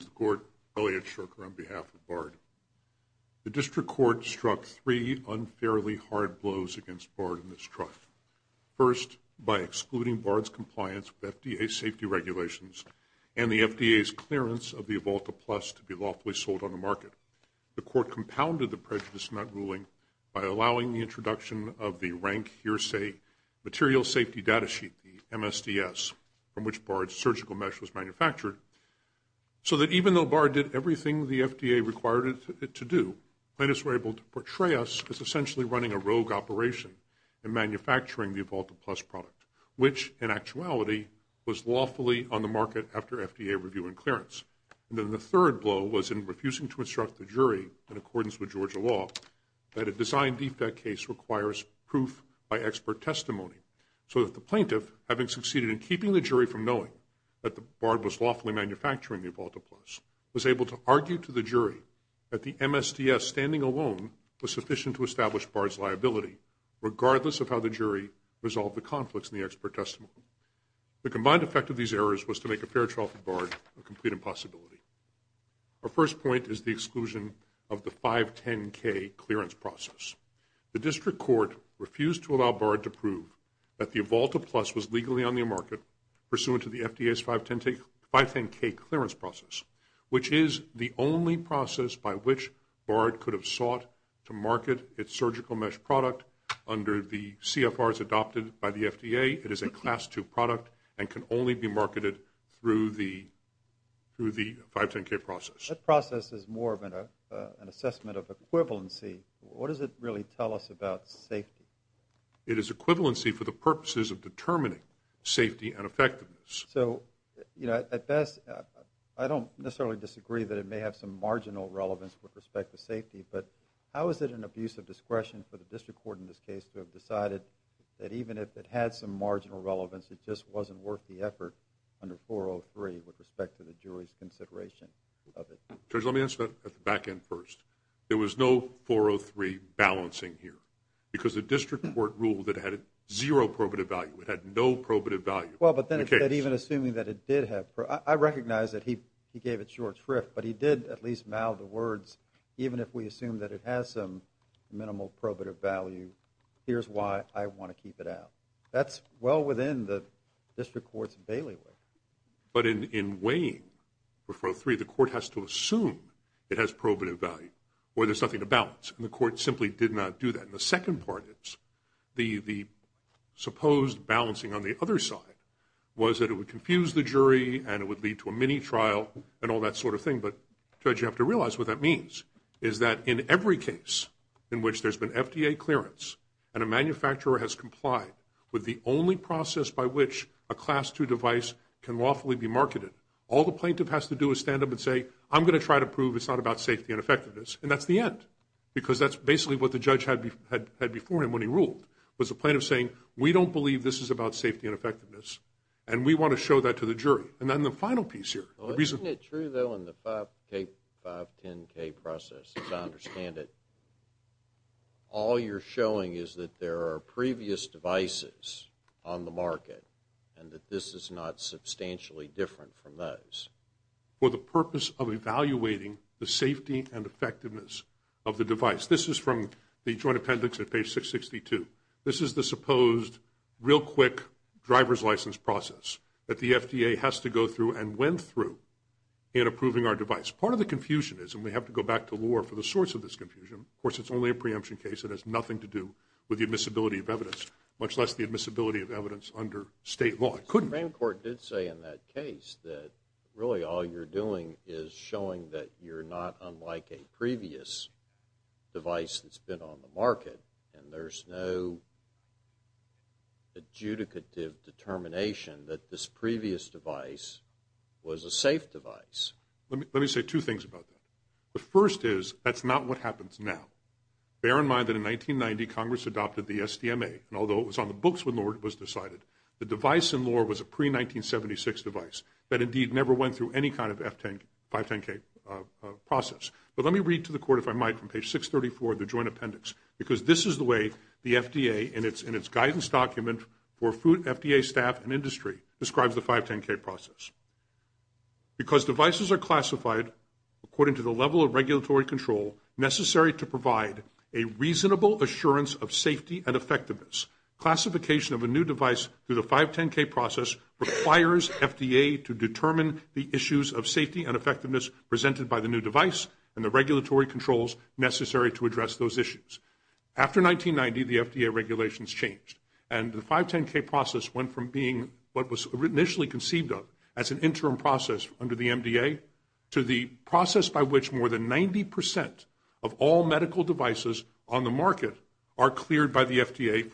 The District Court struck three unfairly hard blows against Bard and his trust. First, by excluding Bard's compliance with FDA safety regulations and the FDA's clearance of the Evolta Plus to be lawfully sold on the market. The Court compounded the prejudice in that ruling by allowing the introduction of the Rank Hearsay Material Safety Data Sheet, the MSDS, from which Bard's surgical mesh was manufactured, so that even though Bard did everything the FDA required it to do, plaintiffs were able to portray us as essentially running a rogue operation in manufacturing the Evolta Plus product, which in actuality was lawfully on the market after FDA review and clearance. And then the third blow was in refusing to instruct the jury in accordance with Georgia law that a design defect case requires proof by expert testimony, so that the plaintiff, having succeeded in keeping the jury from knowing that Bard was lawfully manufacturing the Evolta Plus, was able to argue to the jury that the MSDS standing alone was sufficient to establish Bard's liability, regardless of how the jury resolved the conflicts in the expert testimony. The combined effect of these errors was to make a fair trial for Bard a complete impossibility. Our first point is the exclusion of the 510K clearance process. The District Court refused to allow Bard to prove that the Evolta Plus was legally on the market pursuant to the FDA's 510K clearance process, which is the only process by which Bard could have sought to market its surgical mesh product under the CFRs adopted by the FDA. It is a Class II product and can only be marketed through the 510K process. That process is more of an assessment of equivalency. What does it really tell us about safety? It is equivalency for the purposes of determining safety and effectiveness. So, you know, at best, I don't necessarily disagree that it may have some marginal relevance with respect to safety, but how is it an abuse of discretion for the District Court in this case to have decided that even if it had some marginal relevance, it just wasn't worth the effort under 403 with respect to the jury's consideration of it? Judge, let me answer that at the back end first. There was no 403 balancing here, because it was a District Court rule that had zero probative value. It had no probative value. Well, but then even assuming that it did have probative value, I recognize that he gave it short shrift, but he did at least mouth the words, even if we assume that it has some minimal probative value, here's why I want to keep it out. That's well within the District Court's bailiwick. But in weighing 403, the Court has to assume it has probative value, or there's nothing to balance, and the Court simply did not do that. And the second part is the supposed balancing on the other side was that it would confuse the jury, and it would lead to a mini trial, and all that sort of thing. But, Judge, you have to realize what that means, is that in every case in which there's been FDA clearance, and a manufacturer has complied with the only process by which a Class II device can lawfully be marketed, all the plaintiff has to do is stand up and say, I'm going to try to prove it's not about safety and effectiveness, and that's the end, because that's basically what the judge had before him when he ruled, was the plaintiff saying, we don't believe this is about safety and effectiveness, and we want to show that to the jury. And then the final piece here. Isn't it true, though, in the 510K process, as I understand it, all you're showing is that there are previous devices on the market, and that this is not substantially different from those? for the purpose of evaluating the safety and effectiveness of the device. This is from the Joint Appendix at page 662. This is the supposed real quick driver's license process that the FDA has to go through and went through in approving our device. Part of the confusion is, and we have to go back to law for the source of this confusion, of course it's only a preemption case, it has nothing to do with the admissibility of evidence, much less the admissibility of evidence under state law. The Supreme Court did say in that case that really all you're doing is showing that you're not unlike a previous device that's been on the market, and there's no adjudicative determination that this previous device was a safe device. Let me say two things about that. The first is, that's not what happens now. Bear in mind that in 1990, Congress adopted the SDMA, and although it was on the books when law was decided, the device in law was a pre-1976 device that indeed never went through any kind of 510K process. But let me read to the Court, if I might, from page 634 of the Joint Appendix, because this is the way the FDA, in its guidance document for FDA staff and industry, describes the 510K process. Because devices are classified according to the level of regulatory control necessary to provide a reasonable assurance of safety and effectiveness, classification of a new device through the 510K process requires FDA to determine the issues of safety and effectiveness presented by the new device and the regulatory controls necessary to address those issues. After 1990, the FDA regulations changed, and the 510K process went from being what was initially conceived of as an interim process under the MDA to the process by which more than 90% of all medical devices on the market are cleared by the FDA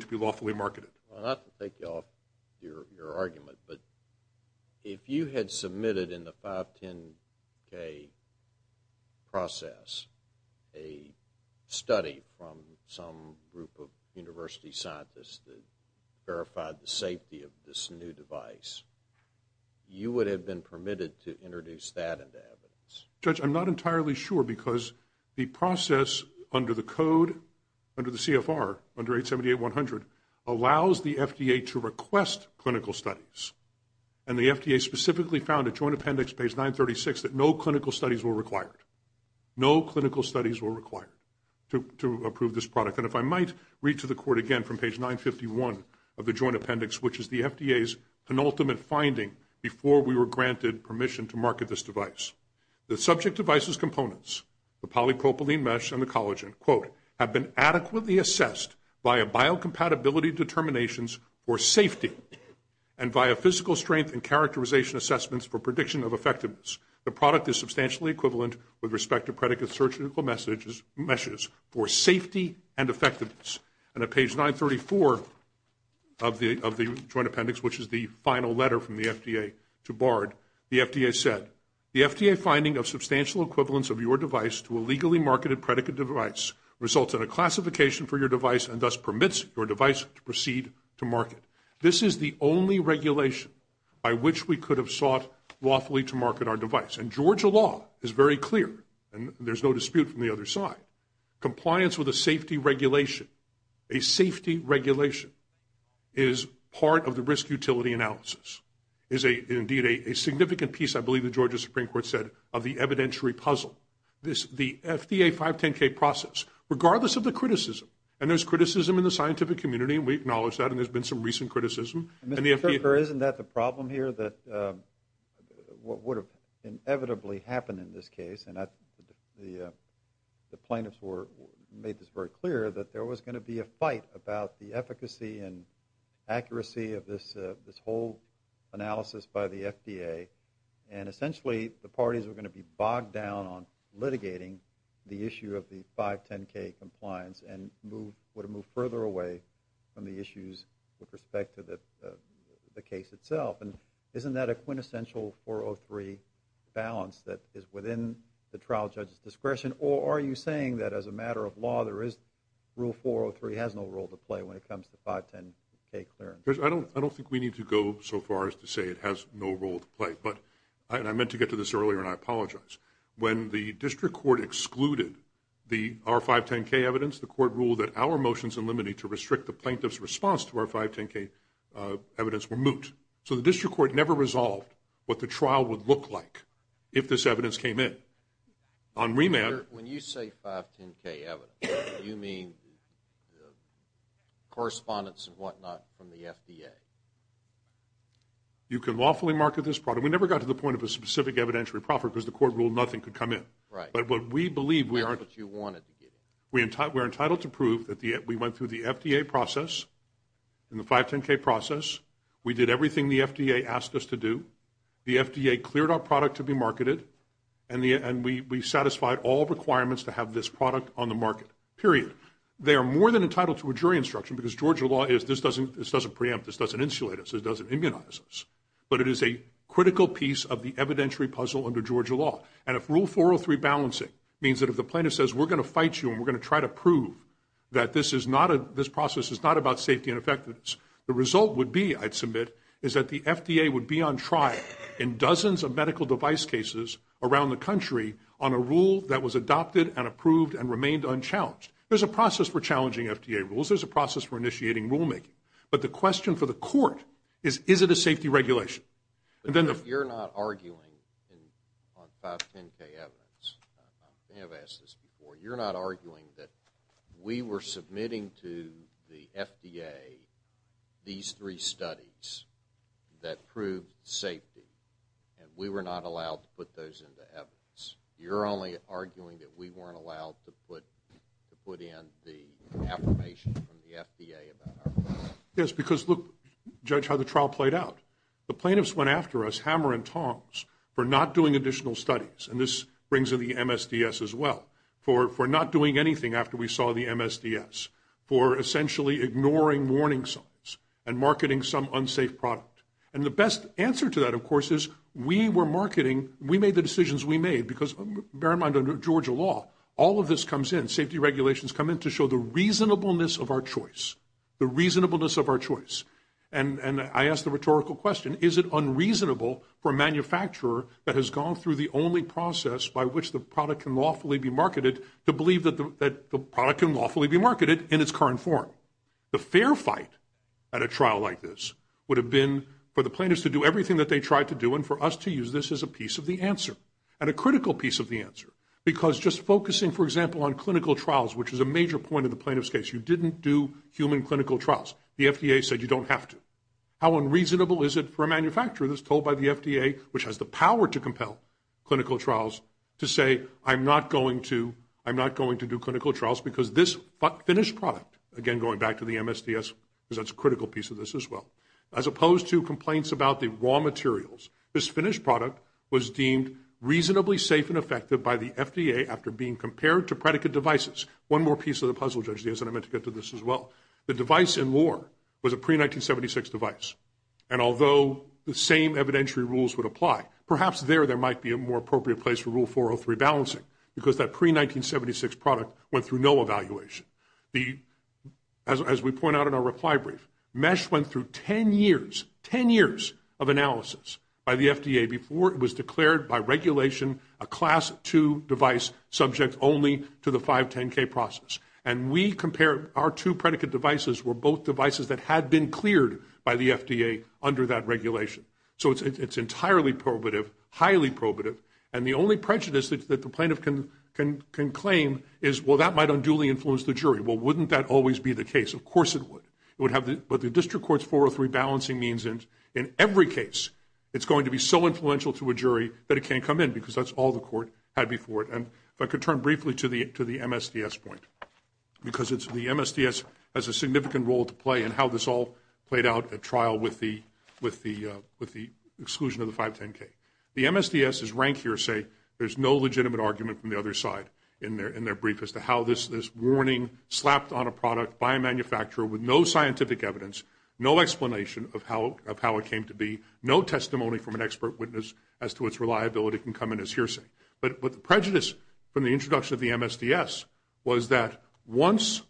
to be lawfully marketed. Well, not to take you off your argument, but if you had submitted in the 510K process a study from some group of university scientists that verified the safety of this new device, you would have been permitted to introduce that into evidence. Judge, I'm not entirely sure, because the process under the code, under the CFR, under 878-100, allows the FDA to request clinical studies. And the FDA specifically found at Joint Appendix page 936 that no clinical studies were required. No clinical studies were required to approve this product. And if I might read to the Court again from page 951 of the Joint Appendix, which is the FDA's penultimate finding before we were granted permission to market this device, the subject device's components, the polypropylene mesh and the collagen, have been adequately assessed via biocompatibility determinations for safety and via physical strength and characterization assessments for prediction of effectiveness. The product is substantially equivalent with respect to predicate surgical meshes for safety and effectiveness. And at page 934 of the Joint Appendix, which is the final letter from the FDA to BARD, the FDA said, the FDA finding of substantial equivalence of your device to a legally marketed predicate device results in a classification for your device and thus permits your device to proceed to market. This is the only regulation by which we could have sought lawfully to market our device. And Georgia law is very clear, and there's no dispute from the other side. Compliance with a safety regulation, a safety regulation, is part of the risk utility analysis, is indeed a significant piece, I believe the Georgia Supreme Court said, of the evidentiary puzzle. The FDA 510K process, regardless of the criticism, and there's criticism in the scientific community, and we acknowledge that, and there's been some recent criticism. Mr. Kirchherr, isn't that the problem here, that what would have inevitably happened in this case, and the plaintiffs made this very clear, that there was going to be a fight about the efficacy and accuracy of this whole analysis by the FDA, and essentially the parties were going to be bogged down on litigating the issue of the 510K compliance and would have moved further away from the issues with respect to the case itself. And isn't that a quintessential 403 balance that is within the trial judge's discretion, or are you saying that as a matter of law there is rule 403 has no role to play when it comes to 510K clearance? I don't think we need to go so far as to say it has no role to play, and I meant to get to this earlier and I apologize. When the district court excluded the R510K evidence, the court ruled that our motions in limine to restrict the plaintiff's response to R510K evidence were moot. So the district court never resolved what the trial would look like if this evidence came in. On remand... When you say 510K evidence, do you mean correspondence and whatnot from the FDA? You can lawfully market this product. We never got to the point of a specific evidentiary profit because the court ruled nothing could come in. Right. But what we believe... That's what you wanted to get in. We are entitled to prove that we went through the FDA process and the 510K process. We did everything the FDA asked us to do. The FDA cleared our product to be marketed, and we satisfied all requirements to have this product on the market, period. They are more than entitled to a jury instruction because Georgia law is this doesn't preempt, this doesn't insulate us, this doesn't immunize us. But it is a critical piece of the evidentiary puzzle under Georgia law. And if rule 403 balancing means that if the plaintiff says we're going to fight you and we're going to try to prove that this process is not about safety and effectiveness, the result would be, I'd submit, is that the FDA would be on trial in dozens of medical device cases around the country on a rule that was adopted and approved and remained unchallenged. There's a process for challenging FDA rules. There's a process for initiating rulemaking. But the question for the court is, is it a safety regulation? You're not arguing on 510K evidence. I think I've asked this before. You're not arguing that we were submitting to the FDA these three studies that proved safety, and we were not allowed to put those into evidence. You're only arguing that we weren't allowed to put in the affirmation from the FDA. Yes, because look, Judge, how the trial played out. The plaintiffs went after us hammer and tongs for not doing additional studies, and this brings in the MSDS as well, for not doing anything after we saw the MSDS, for essentially ignoring warning signs and marketing some unsafe product. And the best answer to that, of course, is we were marketing. We made the decisions we made because, bear in mind, under Georgia law, all of this comes in. Safety regulations come in to show the reasonableness of our choice, the reasonableness of our choice. And I ask the rhetorical question, is it unreasonable for a manufacturer that has gone through the only process by which the product can lawfully be marketed to believe that the product can lawfully be marketed in its current form? The fair fight at a trial like this would have been for the plaintiffs to do everything that they tried to do and for us to use this as a piece of the answer, and a critical piece of the answer. Because just focusing, for example, on clinical trials, which is a major point in the plaintiffs' case, that you didn't do human clinical trials. The FDA said you don't have to. How unreasonable is it for a manufacturer that's told by the FDA, which has the power to compel clinical trials, to say I'm not going to do clinical trials because this finished product, again, going back to the MSDS, because that's a critical piece of this as well, as opposed to complaints about the raw materials, this finished product was deemed reasonably safe and effective by the FDA after being compared to predicate devices. One more piece of the puzzle, Judge Diaz, and I meant to get to this as well. The device in law was a pre-1976 device, and although the same evidentiary rules would apply, perhaps there there might be a more appropriate place for Rule 403 balancing, because that pre-1976 product went through no evaluation. As we point out in our reply brief, MeSH went through 10 years, 10 years of analysis by the FDA before it was declared by regulation a Class II device subject only to the 510K process. And we compared our two predicate devices were both devices that had been cleared by the FDA under that regulation. So it's entirely probative, highly probative, and the only prejudice that the plaintiff can claim is, well, that might unduly influence the jury. Well, wouldn't that always be the case? Of course it would. But the district court's 403 balancing means in every case it's going to be so influential to a jury that it can't come in, because that's all the court had before it. And if I could turn briefly to the MSDS point, because the MSDS has a significant role to play in how this all played out at trial with the exclusion of the 510K. The MSDS's rank here say there's no legitimate argument from the other side in their brief as to how this warning slapped on a product by a manufacturer with no scientific evidence, no explanation of how it came to be, no testimony from an expert witness as to its reliability can come in as hearsay. But the prejudice from the introduction of the MSDS was that once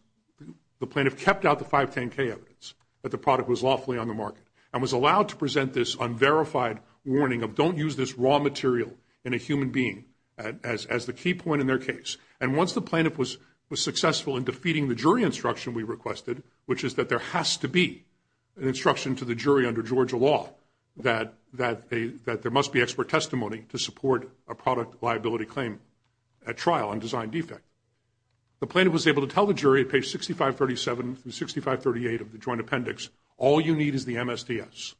the plaintiff kept out the 510K evidence that the product was lawfully on the market and was allowed to present this unverified warning of don't use this raw material in a human being as the key point in their case, and once the plaintiff was successful in defeating the jury instruction we requested, which is that there has to be an instruction to the jury under Georgia law that there must be expert testimony to support a product liability claim at trial on design defect. The plaintiff was able to tell the jury at page 6537 through 6538 of the joint appendix, all you need is the MSDS.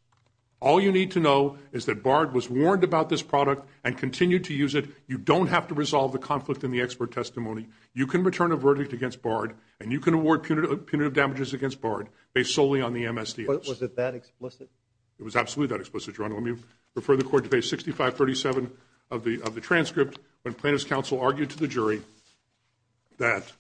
All you need to know is that BARD was warned about this product and continued to use it. You don't have to resolve the conflict in the expert testimony. You can return a verdict against BARD, and you can award punitive damages against BARD based solely on the MSDS. Was it that explicit? It was absolutely that explicit. Let me refer the court to page 6537 of the transcript when plaintiff's counsel argued to the jury that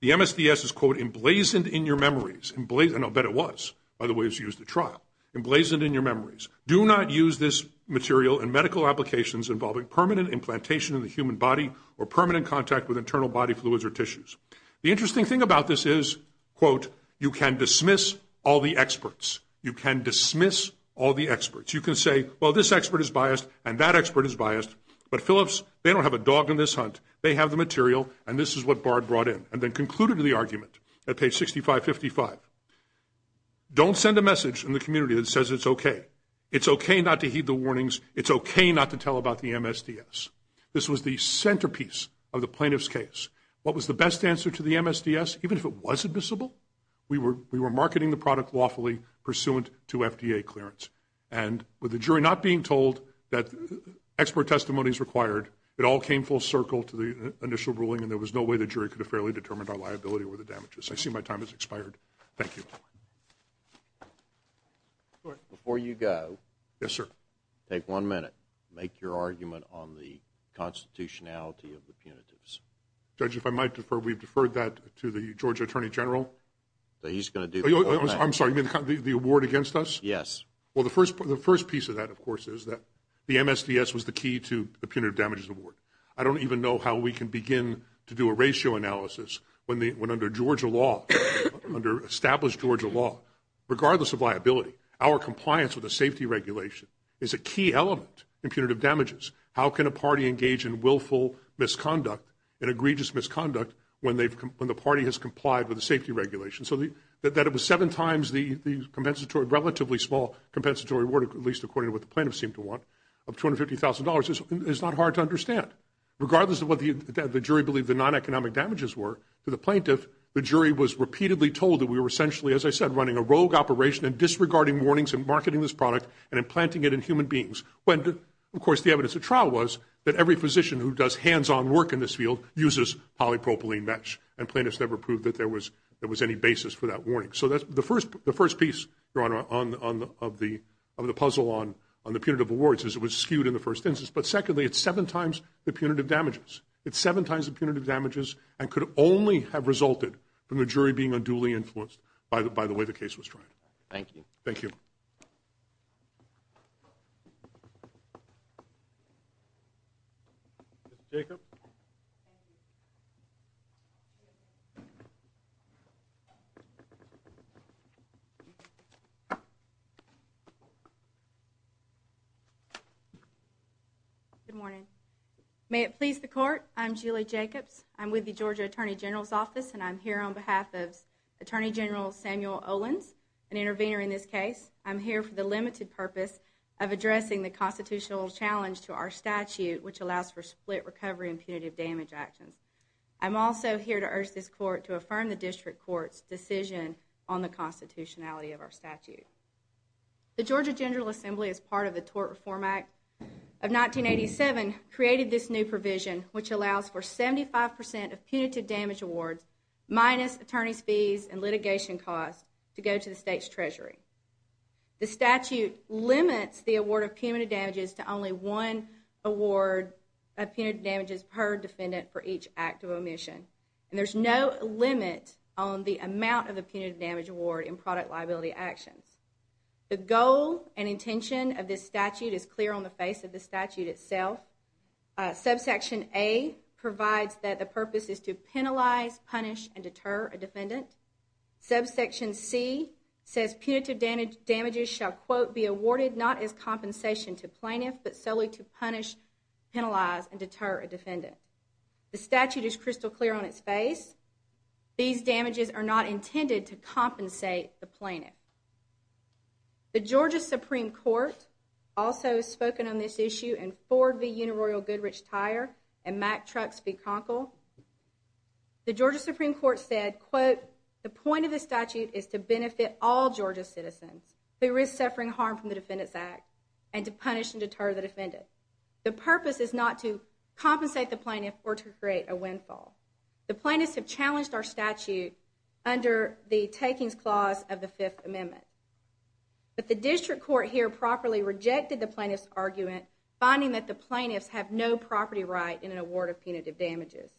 the MSDS is, quote, emblazoned in your memories. I bet it was. By the way, it was used at trial. Emblazoned in your memories. Do not use this material in medical applications involving permanent implantation in the human body or permanent contact with internal body fluids or tissues. The interesting thing about this is, quote, you can dismiss all the experts. You can dismiss all the experts. You can say, well, this expert is biased, and that expert is biased, but, Phillips, they don't have a dog in this hunt. They have the material, and this is what BARD brought in, and then concluded the argument at page 6555. Don't send a message in the community that says it's okay. It's okay not to heed the warnings. It's okay not to tell about the MSDS. This was the centerpiece of the plaintiff's case. What was the best answer to the MSDS, even if it was admissible? We were marketing the product lawfully pursuant to FDA clearance, and with the jury not being told that expert testimony is required, it all came full circle to the initial ruling, and there was no way the jury could have fairly determined our liability or the damages. I see my time has expired. Thank you. Before you go. Yes, sir. Take one minute. Make your argument on the constitutionality of the punitives. Judge, if I might defer, we've deferred that to the Georgia Attorney General. He's going to do that. I'm sorry. You mean the award against us? Yes. Well, the first piece of that, of course, is that the MSDS was the key to the punitive damages award. I don't even know how we can begin to do a ratio analysis when under Georgia law, under established Georgia law, regardless of liability, our compliance with the safety regulation is a key element in punitive damages. How can a party engage in willful misconduct, in egregious misconduct, when the party has complied with the safety regulation? So that it was seven times the compensatory, relatively small compensatory award, at least according to what the plaintiffs seem to want, of $250,000, is not hard to understand. Regardless of what the jury believed the non-economic damages were, to the plaintiff, the jury was repeatedly told that we were essentially, as I said, running a rogue operation and disregarding warnings in marketing this product and implanting it in human beings. Of course, the evidence of trial was that every physician who does hands-on work in this field uses polypropylene mesh, and plaintiffs never proved that there was any basis for that warning. So that's the first piece, Your Honor, of the puzzle on the punitive awards, is it was skewed in the first instance. But secondly, it's seven times the punitive damages. It's seven times the punitive damages and could only have resulted from the jury being unduly influenced by the way the case was tried. Thank you. Thank you. Thank you. Ms. Jacobs? Thank you. Good morning. May it please the Court, I'm Julie Jacobs. I'm with the Georgia Attorney General's Office, and I'm here on behalf of Attorney General Samuel Owens, an intervener in this case. I'm here for the limited purpose of addressing the constitutional challenge to our statute, which allows for split recovery and punitive damage actions. I'm also here to urge this Court to affirm the District Court's decision on the constitutionality of our statute. The Georgia General Assembly, as part of the Tort Reform Act of 1987, created this new provision, which allows for 75 percent of punitive damage awards minus attorney's fees and litigation costs to go to the state's treasury. The statute limits the award of punitive damages to only one award of punitive damages per defendant for each act of omission, and there's no limit on the amount of the punitive damage award in product liability actions. The goal and intention of this statute is clear on the face of the statute itself. Subsection A provides that the purpose is to penalize, punish, and deter a defendant. Subsection C says punitive damages shall, quote, be awarded not as compensation to plaintiff, but solely to punish, penalize, and deter a defendant. The statute is crystal clear on its face. These damages are not intended to compensate the plaintiff. The Georgia Supreme Court also has spoken on this issue in Ford v. Unaroyal-Goodrich-Tyre and Mack-Trucks v. Conkle. The Georgia Supreme Court said, quote, the point of the statute is to benefit all Georgia citizens who risk suffering harm from the Defendant's Act and to punish and deter the defendant. The purpose is not to compensate the plaintiff or to create a windfall. The plaintiffs have challenged our statute under the Takings Clause of the Fifth Amendment. But the district court here properly rejected the plaintiff's argument, finding that the plaintiffs have no property right in an award of punitive damages.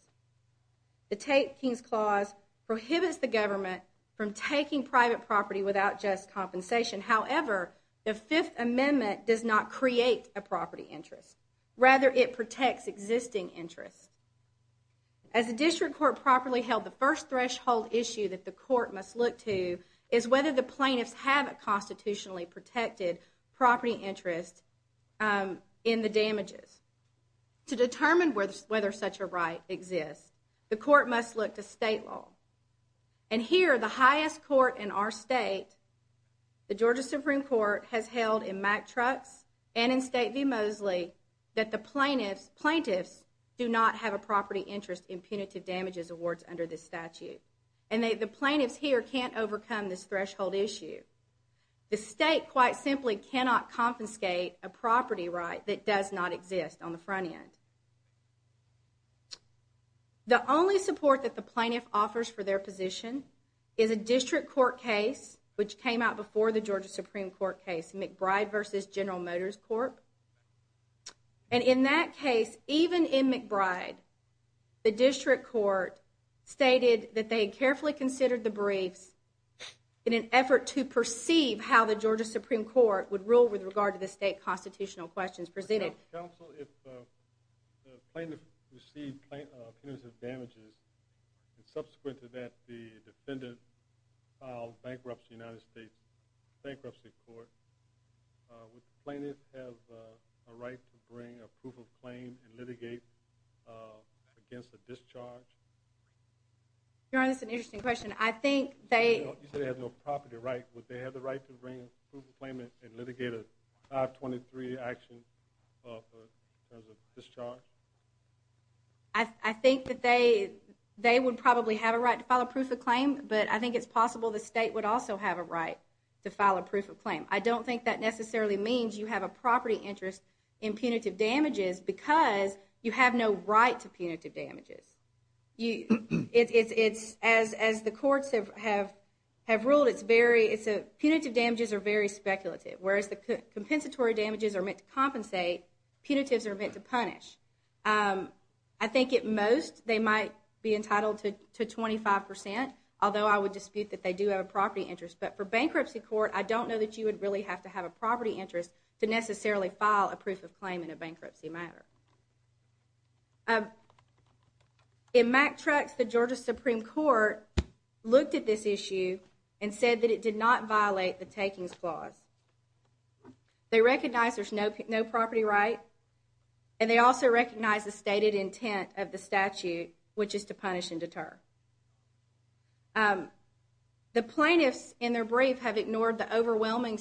The Takings Clause prohibits the government from taking private property without just compensation. However, the Fifth Amendment does not create a property interest. Rather, it protects existing interests. As the district court properly held, the first threshold issue that the court must look to is whether the plaintiffs have a constitutionally protected property interest in the damages. To determine whether such a right exists, the court must look to state law. And here the highest court in our state, the Georgia Supreme Court, has held in Mack-Trucks and in State v. Mosley that the plaintiffs do not have a property interest in punitive damages awards under this statute. And the plaintiffs here can't overcome this threshold issue. The state quite simply cannot confiscate a property right that does not exist on the front end. The only support that the plaintiff offers for their position is a district court case, which came out before the Georgia Supreme Court case, McBride v. General Motors Court. And in that case, even in McBride, the district court stated that they carefully considered the briefs in an effort to perceive how the Georgia Supreme Court would rule with regard to the state constitutional questions presented. Counsel, if the plaintiff received punitive damages, and subsequent to that the defendant filed bankruptcy in the United States Bankruptcy Court, would the plaintiff have a right to bring a proof of claim and litigate against a discharge? Your Honor, that's an interesting question. I think they... You said they have no property right. Would they have the right to bring a proof of claim and litigate a 523 action in terms of discharge? I think that they would probably have a right to file a proof of claim, but I think it's possible the state would also have a right to file a proof of claim. I don't think that necessarily means you have a property interest in punitive damages because you have no right to punitive damages. As the courts have ruled, punitive damages are very speculative, whereas the compensatory damages are meant to compensate, punitives are meant to punish. I think at most they might be entitled to 25%, although I would dispute that they do have a property interest. But for bankruptcy court, I don't know that you would really have to have a property interest to necessarily file a proof of claim in a bankruptcy matter. In MacTrucks, the Georgia Supreme Court looked at this issue and said that it did not violate the takings clause. They recognize there's no property right, and they also recognize the stated intent of the statute, which is to punish and deter. The plaintiffs in their brief have ignored the overwhelming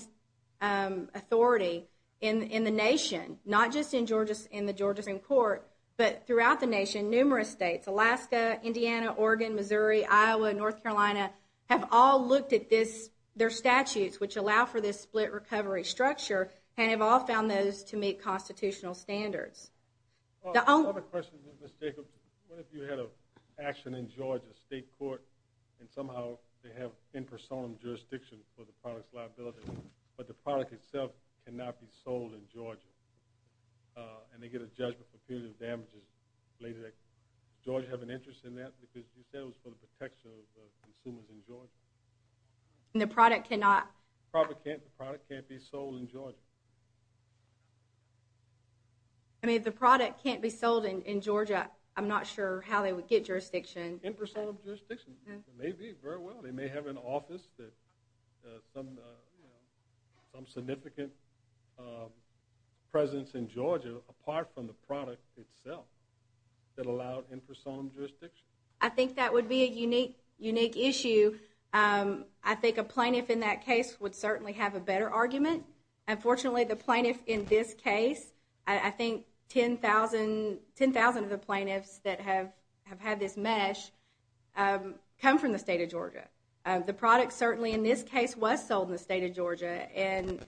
authority in the nation, not just in the Georgia Supreme Court, but throughout the nation, numerous states, Alaska, Indiana, Oregon, Missouri, Iowa, North Carolina, have all looked at their statutes, which allow for this split recovery structure, and have all found those to meet constitutional standards. I have a question, Ms. Jacobs. What if you had an action in Georgia state court, and somehow they have in person jurisdiction for the product's liability, but the product itself cannot be sold in Georgia, and they get a judgment for punitive damages. Does Georgia have an interest in that? Because you said it was for the protection of consumers in Georgia. And the product cannot... The product can't be sold in Georgia. I mean, if the product can't be sold in Georgia, I'm not sure how they would get jurisdiction. In person jurisdiction. It may be, very well. They may have an office, some significant presence in Georgia, apart from the product itself, that allowed in person jurisdiction. I think that would be a unique issue. I think a plaintiff in that case would certainly have a better argument. Unfortunately, the plaintiff in this case, I think 10,000 of the plaintiffs that have had this mesh, come from the state of Georgia. The product certainly in this case was sold in the state of Georgia, and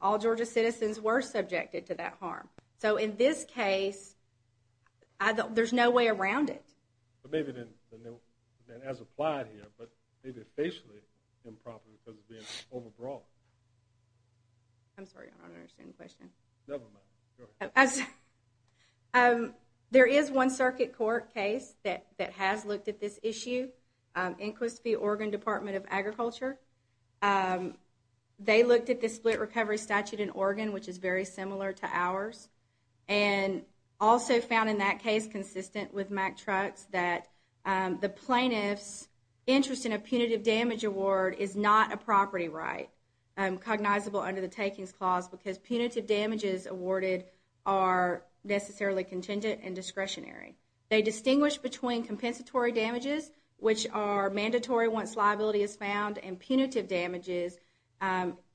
all Georgia citizens were subjected to that harm. So in this case, there's no way around it. But maybe then, as applied here, but maybe it's basically improper because it's being overbought. I'm sorry, I don't understand the question. Never mind. Go ahead. There is one circuit court case that has looked at this issue. Inquist v. Oregon Department of Agriculture. They looked at the split recovery statute in Oregon, which is very similar to ours, and also found in that case consistent with Mack Trucks, that the plaintiff's interest in a punitive damage award is not a property right, cognizable under the takings clause, because punitive damages awarded are necessarily contingent and discretionary. They distinguish between compensatory damages, which are mandatory once liability is found, and punitive damages,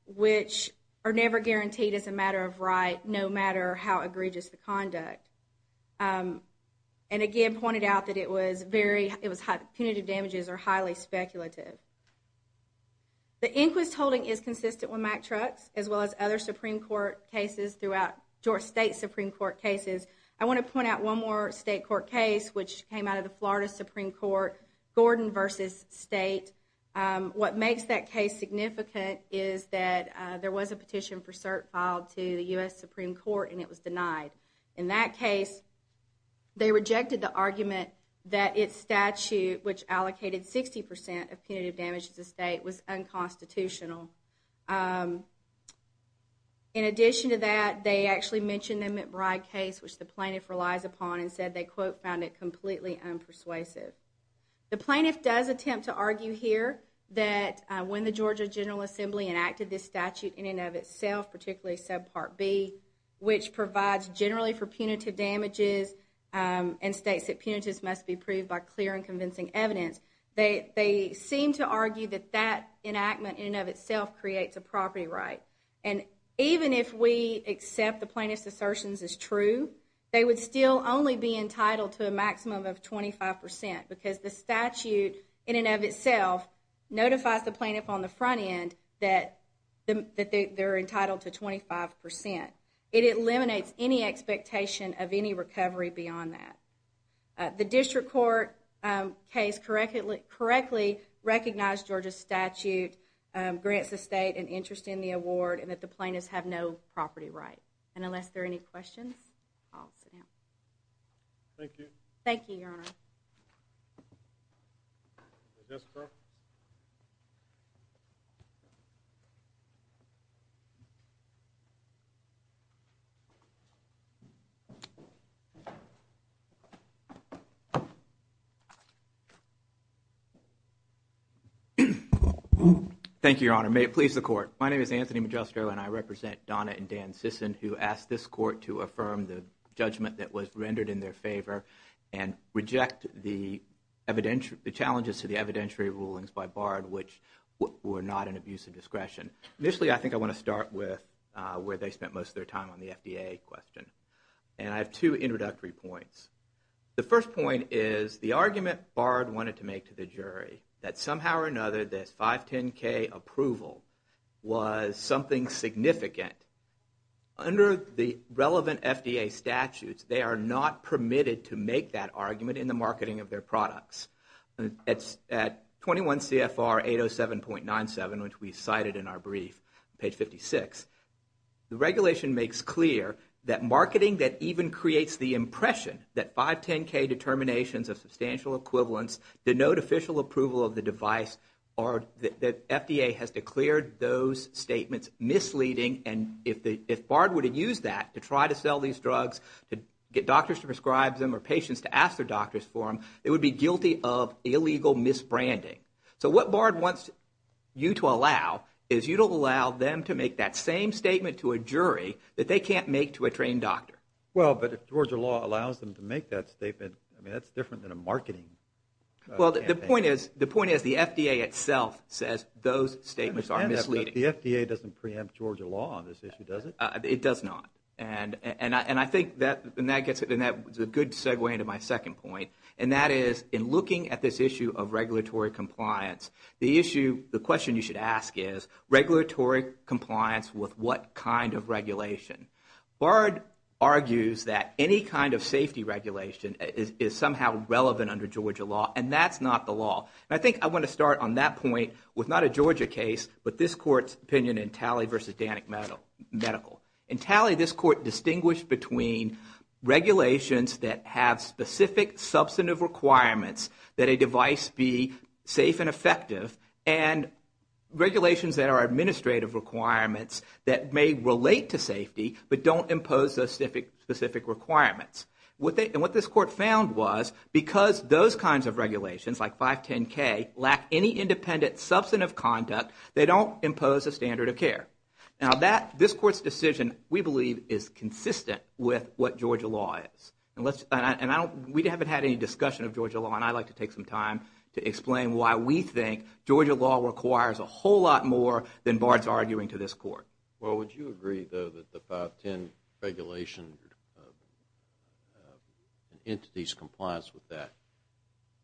which are never guaranteed as a matter of right, no matter how egregious the conduct. And again, pointed out that punitive damages are highly speculative. The Inquist holding is consistent with Mack Trucks, as well as other Supreme Court cases throughout, Georgia State Supreme Court cases. I want to point out one more state court case, which came out of the Florida Supreme Court, Gordon v. State. What makes that case significant is that there was a petition for cert filed to the U.S. Supreme Court, and it was denied. In that case, they rejected the argument that its statute, which allocated 60% of punitive damages to the state, was unconstitutional. In addition to that, they actually mentioned the McBride case, which the plaintiff relies upon, and said they, quote, found it completely unpersuasive. The plaintiff does attempt to argue here that when the Georgia General Assembly enacted this statute in and of itself, particularly Subpart B, which provides generally for punitive damages, and states that punitive must be proved by clear and convincing evidence, they seem to argue that that enactment in and of itself creates a property right. And even if we accept the plaintiff's assertions as true, they would still only be entitled to a maximum of 25%, because the statute in and of itself notifies the plaintiff on the front end that they're entitled to 25%. It eliminates any expectation of any recovery beyond that. The district court case correctly recognized Georgia's statute, grants the state an interest in the award, and that the plaintiffs have no property right. And unless there are any questions, I'll sit down. Thank you. Thank you, Your Honor. Thank you, Your Honor. May it please the Court. My name is Anthony Magistro, and I represent Donna and Dan Sisson, who asked this court to affirm the judgment that was rendered in their favor and reject the challenges to the evidentiary rulings by Bard, which were not an abuse of discretion. Initially, I think I want to start with where they spent most of their time on the FDA question. And I have two introductory points. The first point is the argument Bard wanted to make to the jury, that somehow or another this 510K approval was something significant. Under the relevant FDA statutes, they are not permitted to make that argument in the marketing of their products. At 21 CFR 807.97, which we cited in our brief, page 56, the regulation makes clear that marketing that even creates the impression that 510K determinations of substantial equivalence denote official approval of the device, or that FDA has declared those statements misleading. And if Bard would have used that to try to sell these drugs, to get doctors to prescribe them or patients to ask their doctors for them, they would be guilty of illegal misbranding. So what Bard wants you to allow is you to allow them to make that same statement to a jury that they can't make to a trained doctor. Well, but if Georgia law allows them to make that statement, I mean, that's different than a marketing campaign. Well, the point is the FDA itself says those statements are misleading. The FDA doesn't preempt Georgia law on this issue, does it? It does not. And I think that gets a good segue into my second point, and that is in looking at this issue of regulatory compliance, the issue, the question you should ask is, regulatory compliance with what kind of regulation? Bard argues that any kind of safety regulation is somehow relevant under Georgia law, and that's not the law. And I think I want to start on that point with not a Georgia case, but this Court's opinion in Talley v. Danick Medical. In Talley, this Court distinguished between regulations that have specific substantive requirements that a device be safe and effective and regulations that are administrative requirements that may relate to safety but don't impose those specific requirements. And what this Court found was because those kinds of regulations, like 510K, lack any independent substantive conduct, they don't impose a standard of care. Now, this Court's decision, we believe, is consistent with what Georgia law is. And we haven't had any discussion of Georgia law, and I'd like to take some time to explain why we think Georgia law requires a whole lot more than Bard's arguing to this Court. Well, would you agree, though, that the 510 regulation and entities' compliance with that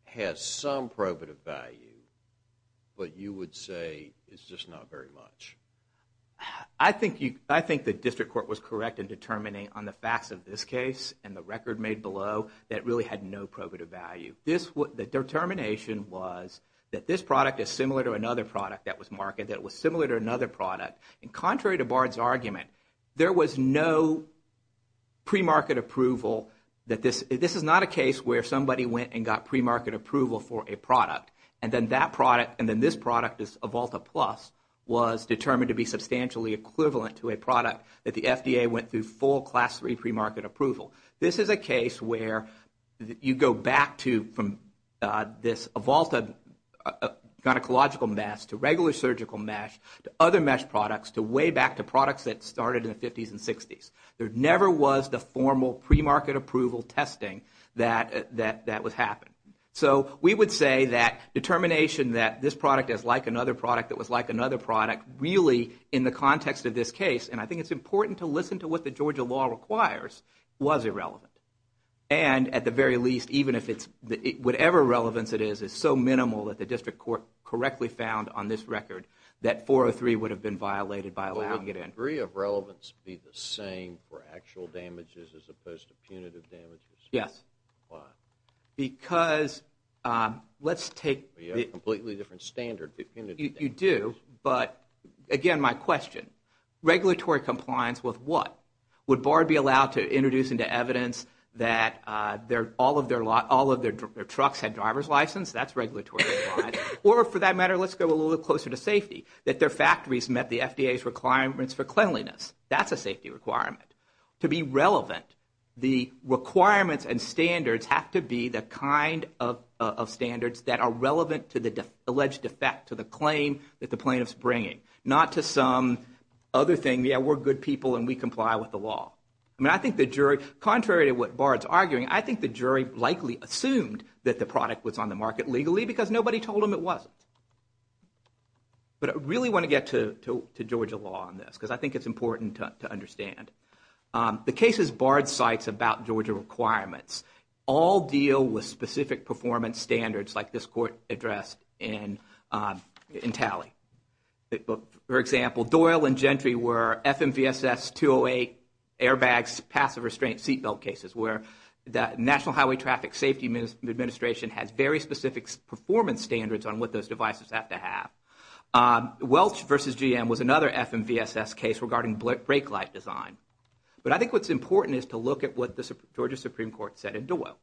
has some probative value, but you would say it's just not very much? I think the District Court was correct in determining on the facts of this case and the record made below that it really had no probative value. The determination was that this product is similar to another product that was marketed, that it was similar to another product. And contrary to Bard's argument, there was no premarket approval. This is not a case where somebody went and got premarket approval for a product, and then that product and then this product, this Avalta Plus, was determined to be substantially equivalent to a product that the FDA went through full Class III premarket approval. This is a case where you go back from this Avalta gynecological mesh to regular surgical mesh to other mesh products to way back to products that started in the 50s and 60s. There never was the formal premarket approval testing that was happening. So we would say that determination that this product is like another product that was like another product really in the context of this case, and I think it's important to listen to what the Georgia law requires, was irrelevant. And at the very least, whatever relevance it is, it's so minimal that the district court correctly found on this record that 403 would have been violated by allowing it in. Would the degree of relevance be the same for actual damages as opposed to punitive damages? Yes. Why? You have a completely different standard for punitive damages. You do, but again, my question, regulatory compliance with what? Would BARD be allowed to introduce into evidence that all of their trucks had driver's license? That's regulatory compliance. Or for that matter, let's go a little closer to safety, that their factories met the FDA's requirements for cleanliness. That's a safety requirement. To be relevant, the requirements and standards have to be the kind of standards that are relevant to the alleged defect, to the claim that the plaintiff's bringing, not to some other thing, yeah, we're good people and we comply with the law. I mean, I think the jury, contrary to what BARD's arguing, I think the jury likely assumed that the product was on the market legally because nobody told them it wasn't. But I really want to get to Georgia law on this because I think it's important to understand. The cases BARD cites about Georgia requirements all deal with specific performance standards like this court addressed in tally. For example, Doyle and Gentry were FMVSS 208 airbags, passive restraint seat belt cases where the National Highway Traffic Safety Administration has very specific performance standards on what those devices have to have. Welch v. GM was another FMVSS case regarding brake light design. But I think what's important is to look at what the Georgia Supreme Court said in Doyle.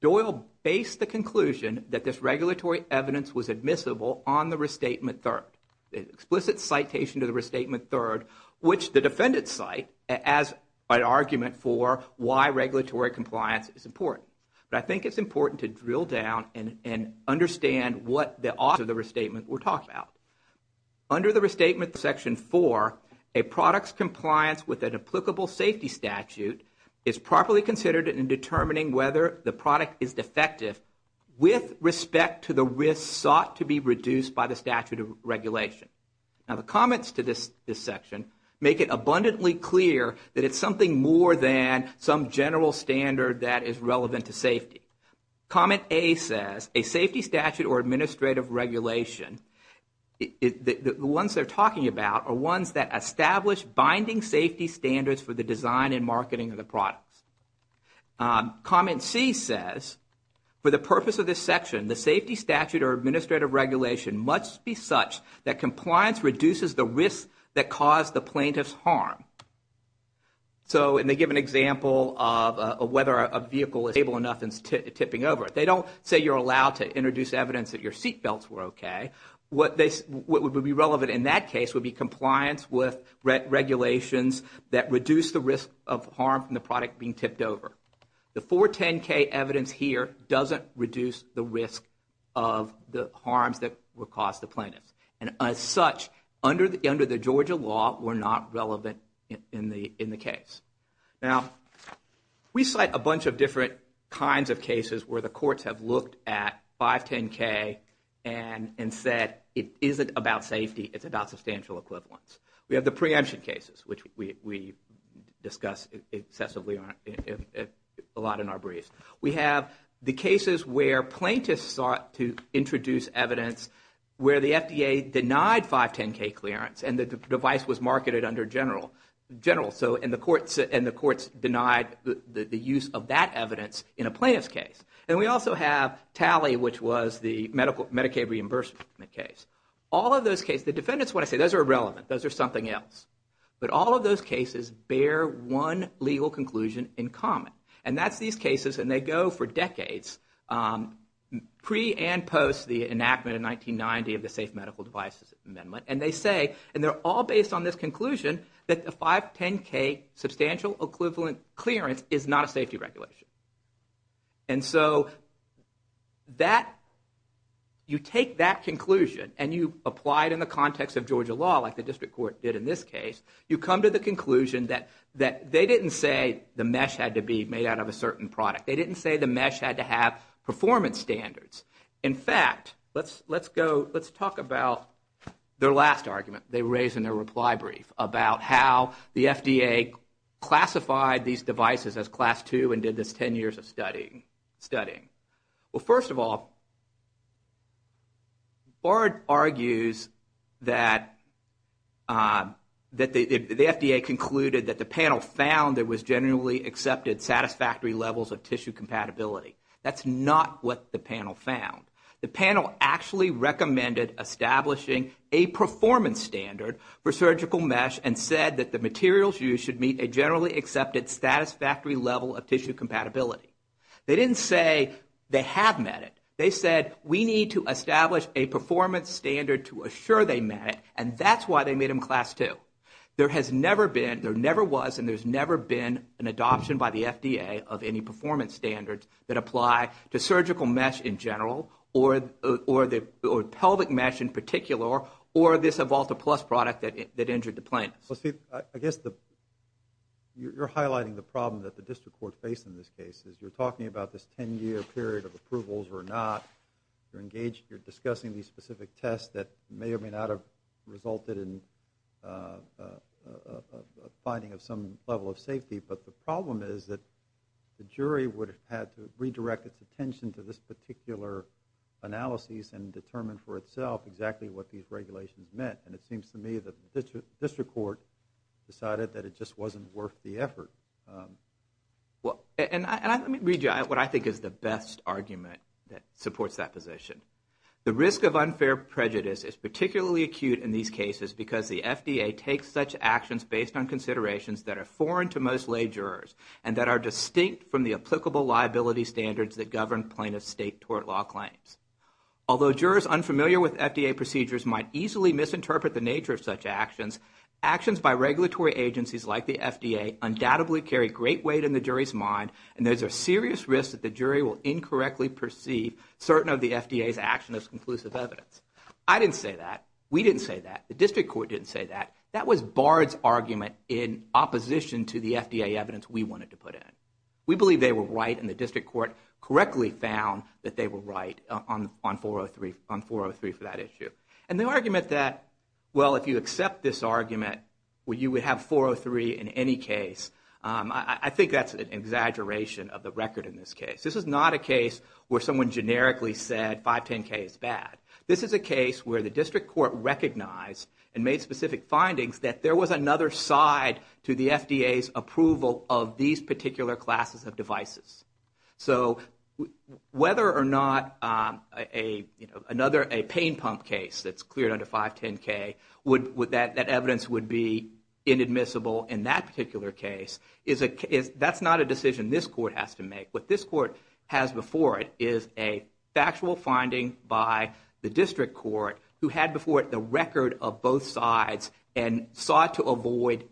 Doyle based the conclusion that this regulatory evidence was admissible on the restatement third. The explicit citation to the restatement third, which the defendants cite as an argument for why regulatory compliance is important. But I think it's important to drill down and understand what the restatement we're talking about. Under the restatement section four, a product's compliance with an applicable safety statute is properly considered in determining whether the product is defective with respect to the risk sought to be reduced by the statute of regulation. Now the comments to this section make it abundantly clear that it's something more than some general standard that is relevant to safety. Comment A says, a safety statute or administrative regulation, the ones they're talking about are ones that establish binding safety standards for the design and marketing of the products. Comment C says, for the purpose of this section, the safety statute or administrative regulation must be such that compliance reduces the risk that caused the plaintiff's harm. So they give an example of whether a vehicle is stable enough and tipping over. They don't say you're allowed to introduce evidence that your seatbelts were okay. What would be relevant in that case would be compliance with regulations that reduce the risk of harm from the product being tipped over. The 410K evidence here doesn't reduce the risk of the harms that would cause the plaintiff. And as such, under the Georgia law, we're not relevant in the case. Now we cite a bunch of different kinds of cases where the courts have looked at 510K and said it isn't about safety, it's about substantial equivalence. We have the preemption cases, which we discuss excessively a lot in our briefs. We have the cases where plaintiffs sought to introduce evidence where the FDA denied 510K clearance and the device was marketed under general. And the courts denied the use of that evidence in a plaintiff's case. And we also have TALI, which was the Medicaid reimbursement case. All of those cases, the defendants want to say those are irrelevant, those are something else. But all of those cases bear one legal conclusion in common. And that's these cases, and they go for decades, pre and post the enactment in 1990 of the Safe Medical Devices Amendment, and they say, and they're all based on this conclusion, that the 510K substantial equivalent clearance is not a safety regulation. And so you take that conclusion and you apply it in the context of Georgia law, like the district court did in this case, you come to the conclusion that they didn't say the mesh had to be made out of a certain product. They didn't say the mesh had to have performance standards. In fact, let's talk about their last argument they raised in their reply brief, about how the FDA classified these devices as Class II and did this 10 years of studying. Well, first of all, Bard argues that the FDA concluded that the panel found there was generally accepted satisfactory levels of tissue compatibility. That's not what the panel found. The panel actually recommended establishing a performance standard for surgical mesh and said that the materials used should meet a generally accepted satisfactory level of tissue compatibility. They didn't say they have met it. They said we need to establish a performance standard to assure they met it, and that's why they made them Class II. There has never been, there never was, and there's never been an adoption by the FDA of any performance standards that apply to surgical mesh in general, or pelvic mesh in particular, or this Evolta Plus product that injured the plaintiff. Well, Steve, I guess you're highlighting the problem that the district court faced in this case. You're talking about this 10-year period of approvals or not. You're discussing these specific tests that may or may not have resulted in a finding of some level of safety, but the problem is that the jury would have had to redirect its attention to this particular analysis and determine for itself exactly what these regulations meant, and it seems to me that the district court decided that it just wasn't worth the effort. Well, and let me read you what I think is the best argument that supports that position. The risk of unfair prejudice is particularly acute in these cases because the FDA takes such actions based on considerations that are foreign to most lay jurors and that are distinct from the applicable liability standards that govern plaintiff's state tort law claims. Although jurors unfamiliar with FDA procedures might easily misinterpret the nature of such actions, actions by regulatory agencies like the FDA undoubtedly carry great weight in the jury's mind, and there's a serious risk that the jury will incorrectly perceive certain of the FDA's action as conclusive evidence. I didn't say that. We didn't say that. The district court didn't say that. That was Bard's argument in opposition to the FDA evidence we wanted to put in. We believe they were right, and the district court correctly found that they were right on 403 for that issue. And the argument that, well, if you accept this argument, you would have 403 in any case, I think that's an exaggeration of the record in this case. This is not a case where someone generically said 510K is bad. This is a case where the district court recognized and made specific findings that there was another side to the FDA's approval of these particular classes of devices. So whether or not a pain pump case that's cleared under 510K, that evidence would be inadmissible in that particular case, that's not a decision this court has to make. What this court has before it is a factual finding by the district court who had before it the record of both sides and sought to avoid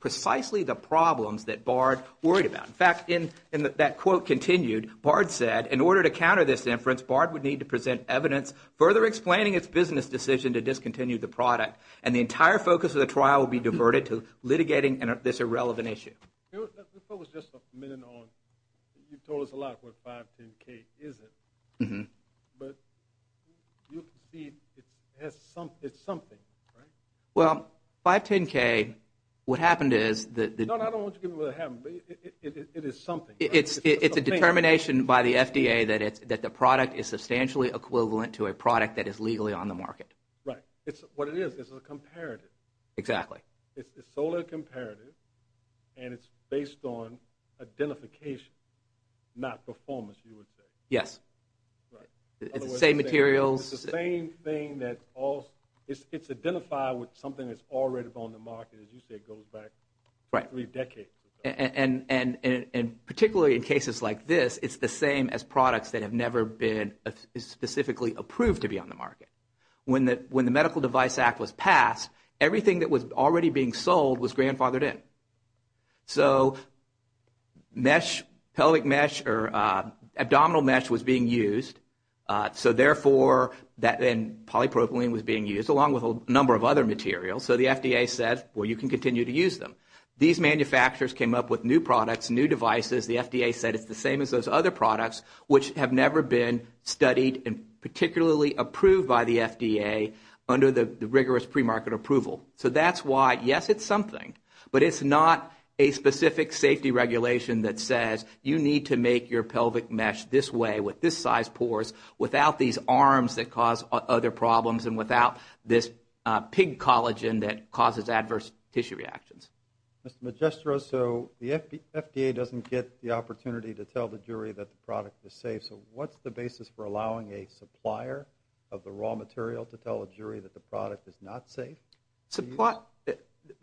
precisely the problems that Bard worried about. In fact, in that quote continued, Bard said, in order to counter this inference, Bard would need to present evidence further explaining its business decision to discontinue the product, and the entire focus of the trial would be diverted to litigating this irrelevant issue. If I was just a minute on, you told us a lot about what 510K isn't, but you can see it's something, right? Well, 510K, what happened is that the No, I don't want you to give me what happened, but it is something. It's a determination by the FDA that the product is substantially equivalent to a product that is legally on the market. Right. What it is, it's a comparative. Exactly. It's solely a comparative, and it's based on identification, not performance, you would say. Yes. Right. It's the same materials. It's the same thing that all, it's identified with something that's already on the market. As you say, it goes back three decades. And particularly in cases like this, it's the same as products that have never been specifically approved to be on the market. When the Medical Device Act was passed, everything that was already being sold was grandfathered in. So, mesh, pelvic mesh, or abdominal mesh was being used, so therefore that then polypropylene was being used, along with a number of other materials. So the FDA said, well, you can continue to use them. These manufacturers came up with new products, new devices. The FDA said it's the same as those other products, which have never been studied and particularly approved by the FDA under the rigorous premarket approval. So that's why, yes, it's something, but it's not a specific safety regulation that says you need to make your pelvic mesh this way with this size pores without these arms that cause other problems and without this pig collagen that causes adverse tissue reactions. Mr. Magistro, so the FDA doesn't get the opportunity to tell the jury that the product is safe. Okay, so what's the basis for allowing a supplier of the raw material to tell a jury that the product is not safe?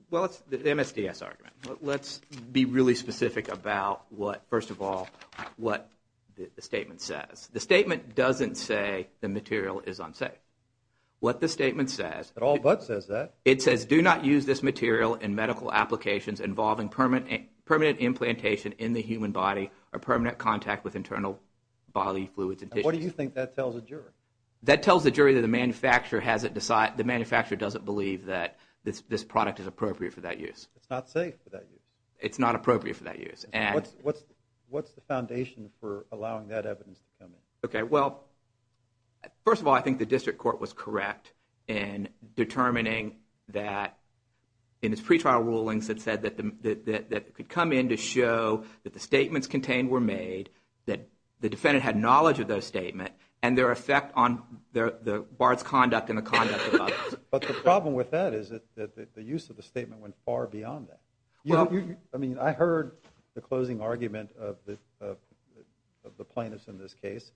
Well, it's the MSDS argument. Let's be really specific about, first of all, what the statement says. The statement doesn't say the material is unsafe. What the statement says... It all but says that. It says, do not use this material in medical applications involving permanent implantation in the human body or permanent contact with internal bodily fluids and tissues. What do you think that tells the jury? That tells the jury that the manufacturer doesn't believe that this product is appropriate for that use. It's not safe for that use. It's not appropriate for that use. What's the foundation for allowing that evidence to come in? Okay, well, first of all, I think the district court was correct in determining that in its pretrial rulings it said that it could come in to show that the statements contained were made, that the defendant had knowledge of those statements, and their effect on the barred conduct and the conduct of others. But the problem with that is that the use of the statement went far beyond that. I mean, I heard the closing argument of the plaintiffs in this case.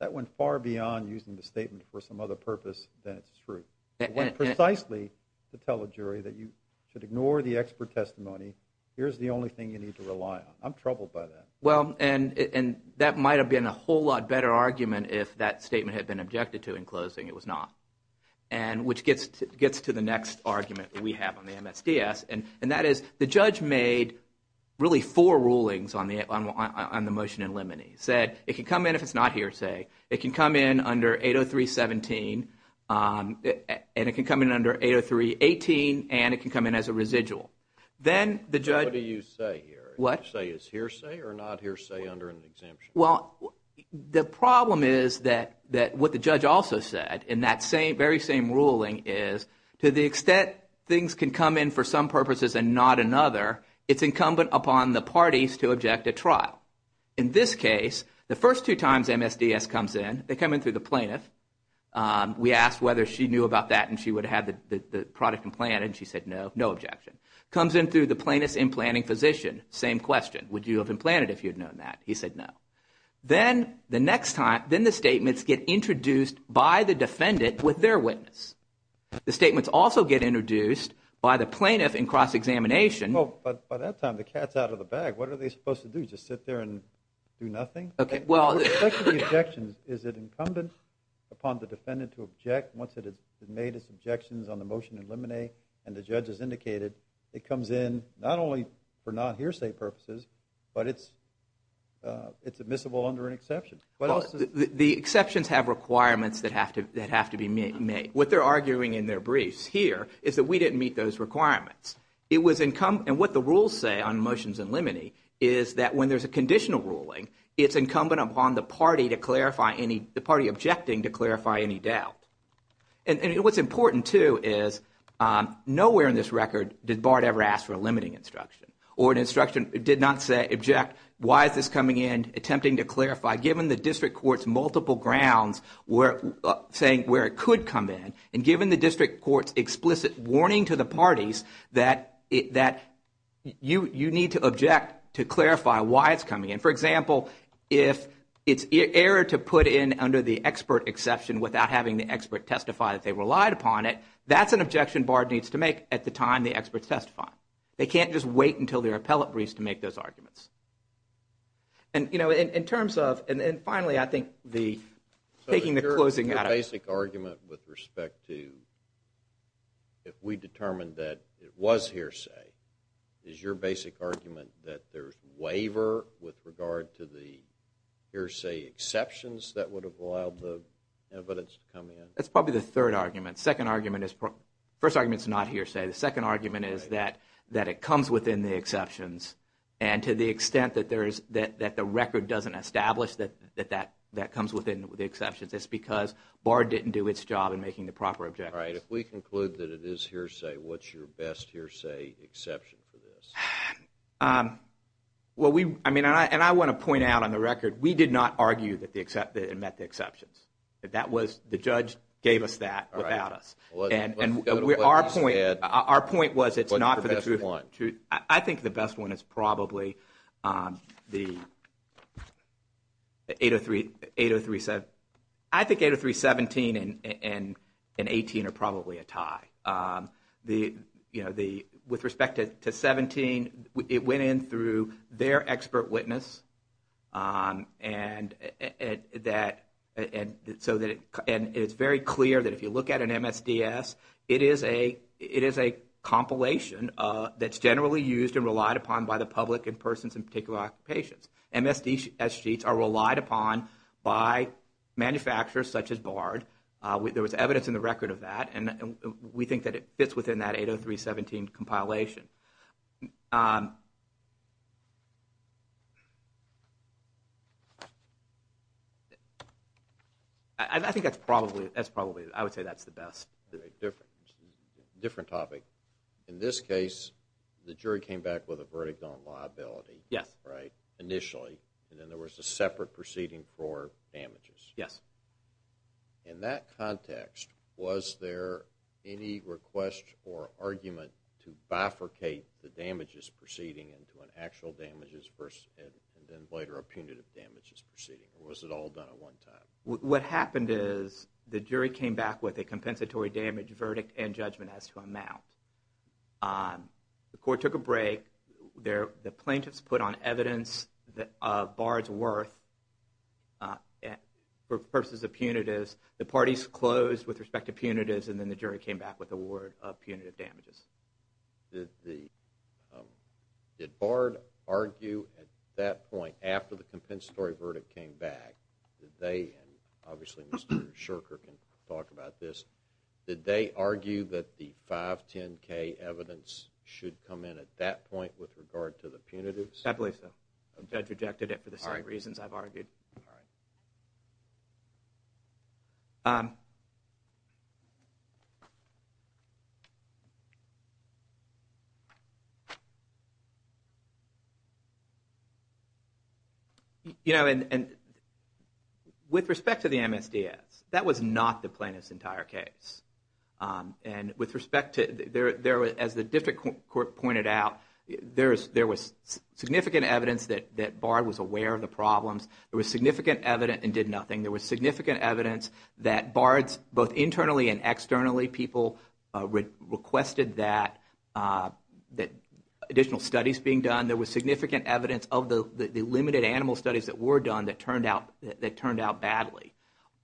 That went far beyond using the statement for some other purpose than its truth. It went precisely to tell a jury that you should ignore the expert testimony. Here's the only thing you need to rely on. I'm troubled by that. Well, and that might have been a whole lot better argument if that statement had been objected to in closing. It was not, which gets to the next argument that we have on the MSDS, and that is the judge made really four rulings on the motion in limine. It said it could come in if it's not hearsay. It can come in under 803.17, and it can come in under 803.18, and it can come in as a residual. Then the judge – What do you say here? What? You say it's hearsay or not hearsay under an exemption? Well, the problem is that what the judge also said in that very same ruling is to the extent things can come in for some purposes and not another, it's incumbent upon the parties to object at trial. In this case, the first two times MSDS comes in, they come in through the plaintiff. We asked whether she knew about that and she would have the product implanted, and she said no, no objection. Comes in through the plaintiff's implanting physician, same question. Would you have implanted if you had known that? He said no. Then the next time, then the statements get introduced by the defendant with their witness. The statements also get introduced by the plaintiff in cross-examination. Well, by that time, the cat's out of the bag. What are they supposed to do, just sit there and do nothing? Okay, well – With respect to the objections, is it incumbent upon the defendant to object once it has made its objections on the motion in limine and the judge has indicated it comes in not only for not hearsay purposes, but it's admissible under an exception? Well, the exceptions have requirements that have to be made. What they're arguing in their briefs here is that we didn't meet those requirements. It was incumbent – and what the rules say on motions in limine is that when there's a conditional ruling, it's incumbent upon the party to clarify any – the party objecting to clarify any doubt. And what's important, too, is nowhere in this record did Bart ever ask for a limiting instruction or an instruction that did not say, object, why is this coming in, attempting to clarify, given the district court's multiple grounds saying where it could come in, and given the district court's explicit warning to the parties that you need to object to clarify why it's coming in. For example, if it's error to put in under the expert exception without having the expert testify that they relied upon it, that's an objection Bart needs to make at the time the expert testifies. They can't just wait until their appellate briefs to make those arguments. And, you know, in terms of – and then finally, I think the – taking the closing out of – if we determined that it was hearsay, is your basic argument that there's waiver with regard to the hearsay exceptions that would have allowed the evidence to come in? That's probably the third argument. Second argument is – first argument is not hearsay. The second argument is that it comes within the exceptions. And to the extent that there is – that the record doesn't establish that that comes within the exceptions, it's because Bart didn't do its job in making the proper objections. All right. If we conclude that it is hearsay, what's your best hearsay exception for this? Well, we – I mean, and I want to point out on the record, we did not argue that it met the exceptions. That was – the judge gave us that without us. All right. And our point – our point was it's not for the – What's your best one? I think 803.17 and 18 are probably a tie. The – you know, the – with respect to 17, it went in through their expert witness. And that – and so that – and it's very clear that if you look at an MSDS, it is a – it is a compilation that's generally used and relied upon by the public and persons in particular occupations. MSDS sheets are relied upon by manufacturers such as Bart. There was evidence in the record of that. And we think that it fits within that 803.17 compilation. I think that's probably – that's probably – I would say that's the best. Different – different topic. In this case, the jury came back with a verdict on liability. Yes. Right? Initially. And then there was a separate proceeding for damages. Yes. In that context, was there any request or argument to bifurcate the damages proceeding into an actual damages versus – and then later a punitive damages proceeding? Or was it all done at one time? What happened is the jury came back with a compensatory damage verdict and judgment as to amount. The court took a break. The plaintiffs put on evidence of Bart's worth for purposes of punitives. The parties closed with respect to punitives. And then the jury came back with a word of punitive damages. Did the – did Bart argue at that point, after the compensatory verdict came back, and obviously Mr. Shurker can talk about this, did they argue that the 510K evidence should come in at that point with regard to the punitives? I believe so. The judge rejected it for the same reasons I've argued. All right. All right. You know, and with respect to the MSDS, that was not the plaintiff's entire case. And with respect to – as the district court pointed out, there was significant evidence that Bart was aware of the problems. There was significant evidence and did nothing. There was significant evidence that Bart's – both internally and externally, people requested that additional studies being done. There was significant evidence of the limited animal studies that were done that turned out badly.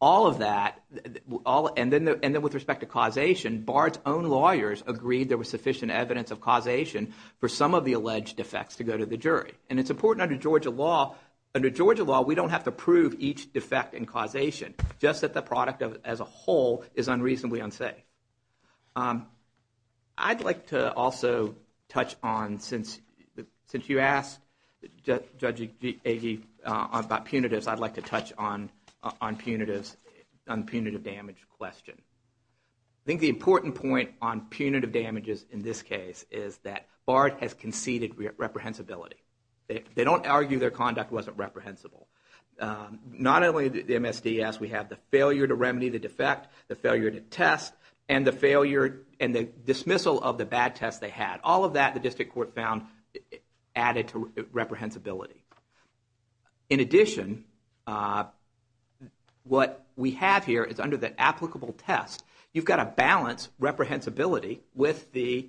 All of that – and then with respect to causation, Bart's own lawyers agreed there was sufficient evidence of causation for some of the alleged defects to go to the jury. And it's important under Georgia law – under Georgia law, we don't have to prove each defect and causation, just that the product as a whole is unreasonably unsafe. I'd like to also touch on – since you asked Judge Agee about punitives, I'd like to touch on the punitive damage question. I think the important point on punitive damages in this case is that Bart has conceded reprehensibility. They don't argue their conduct wasn't reprehensible. Not only the MSDS, we have the failure to remedy the defect, the failure to test, and the dismissal of the bad tests they had. All of that the district court found added to reprehensibility. In addition, what we have here is under the applicable test, you've got to balance reprehensibility with the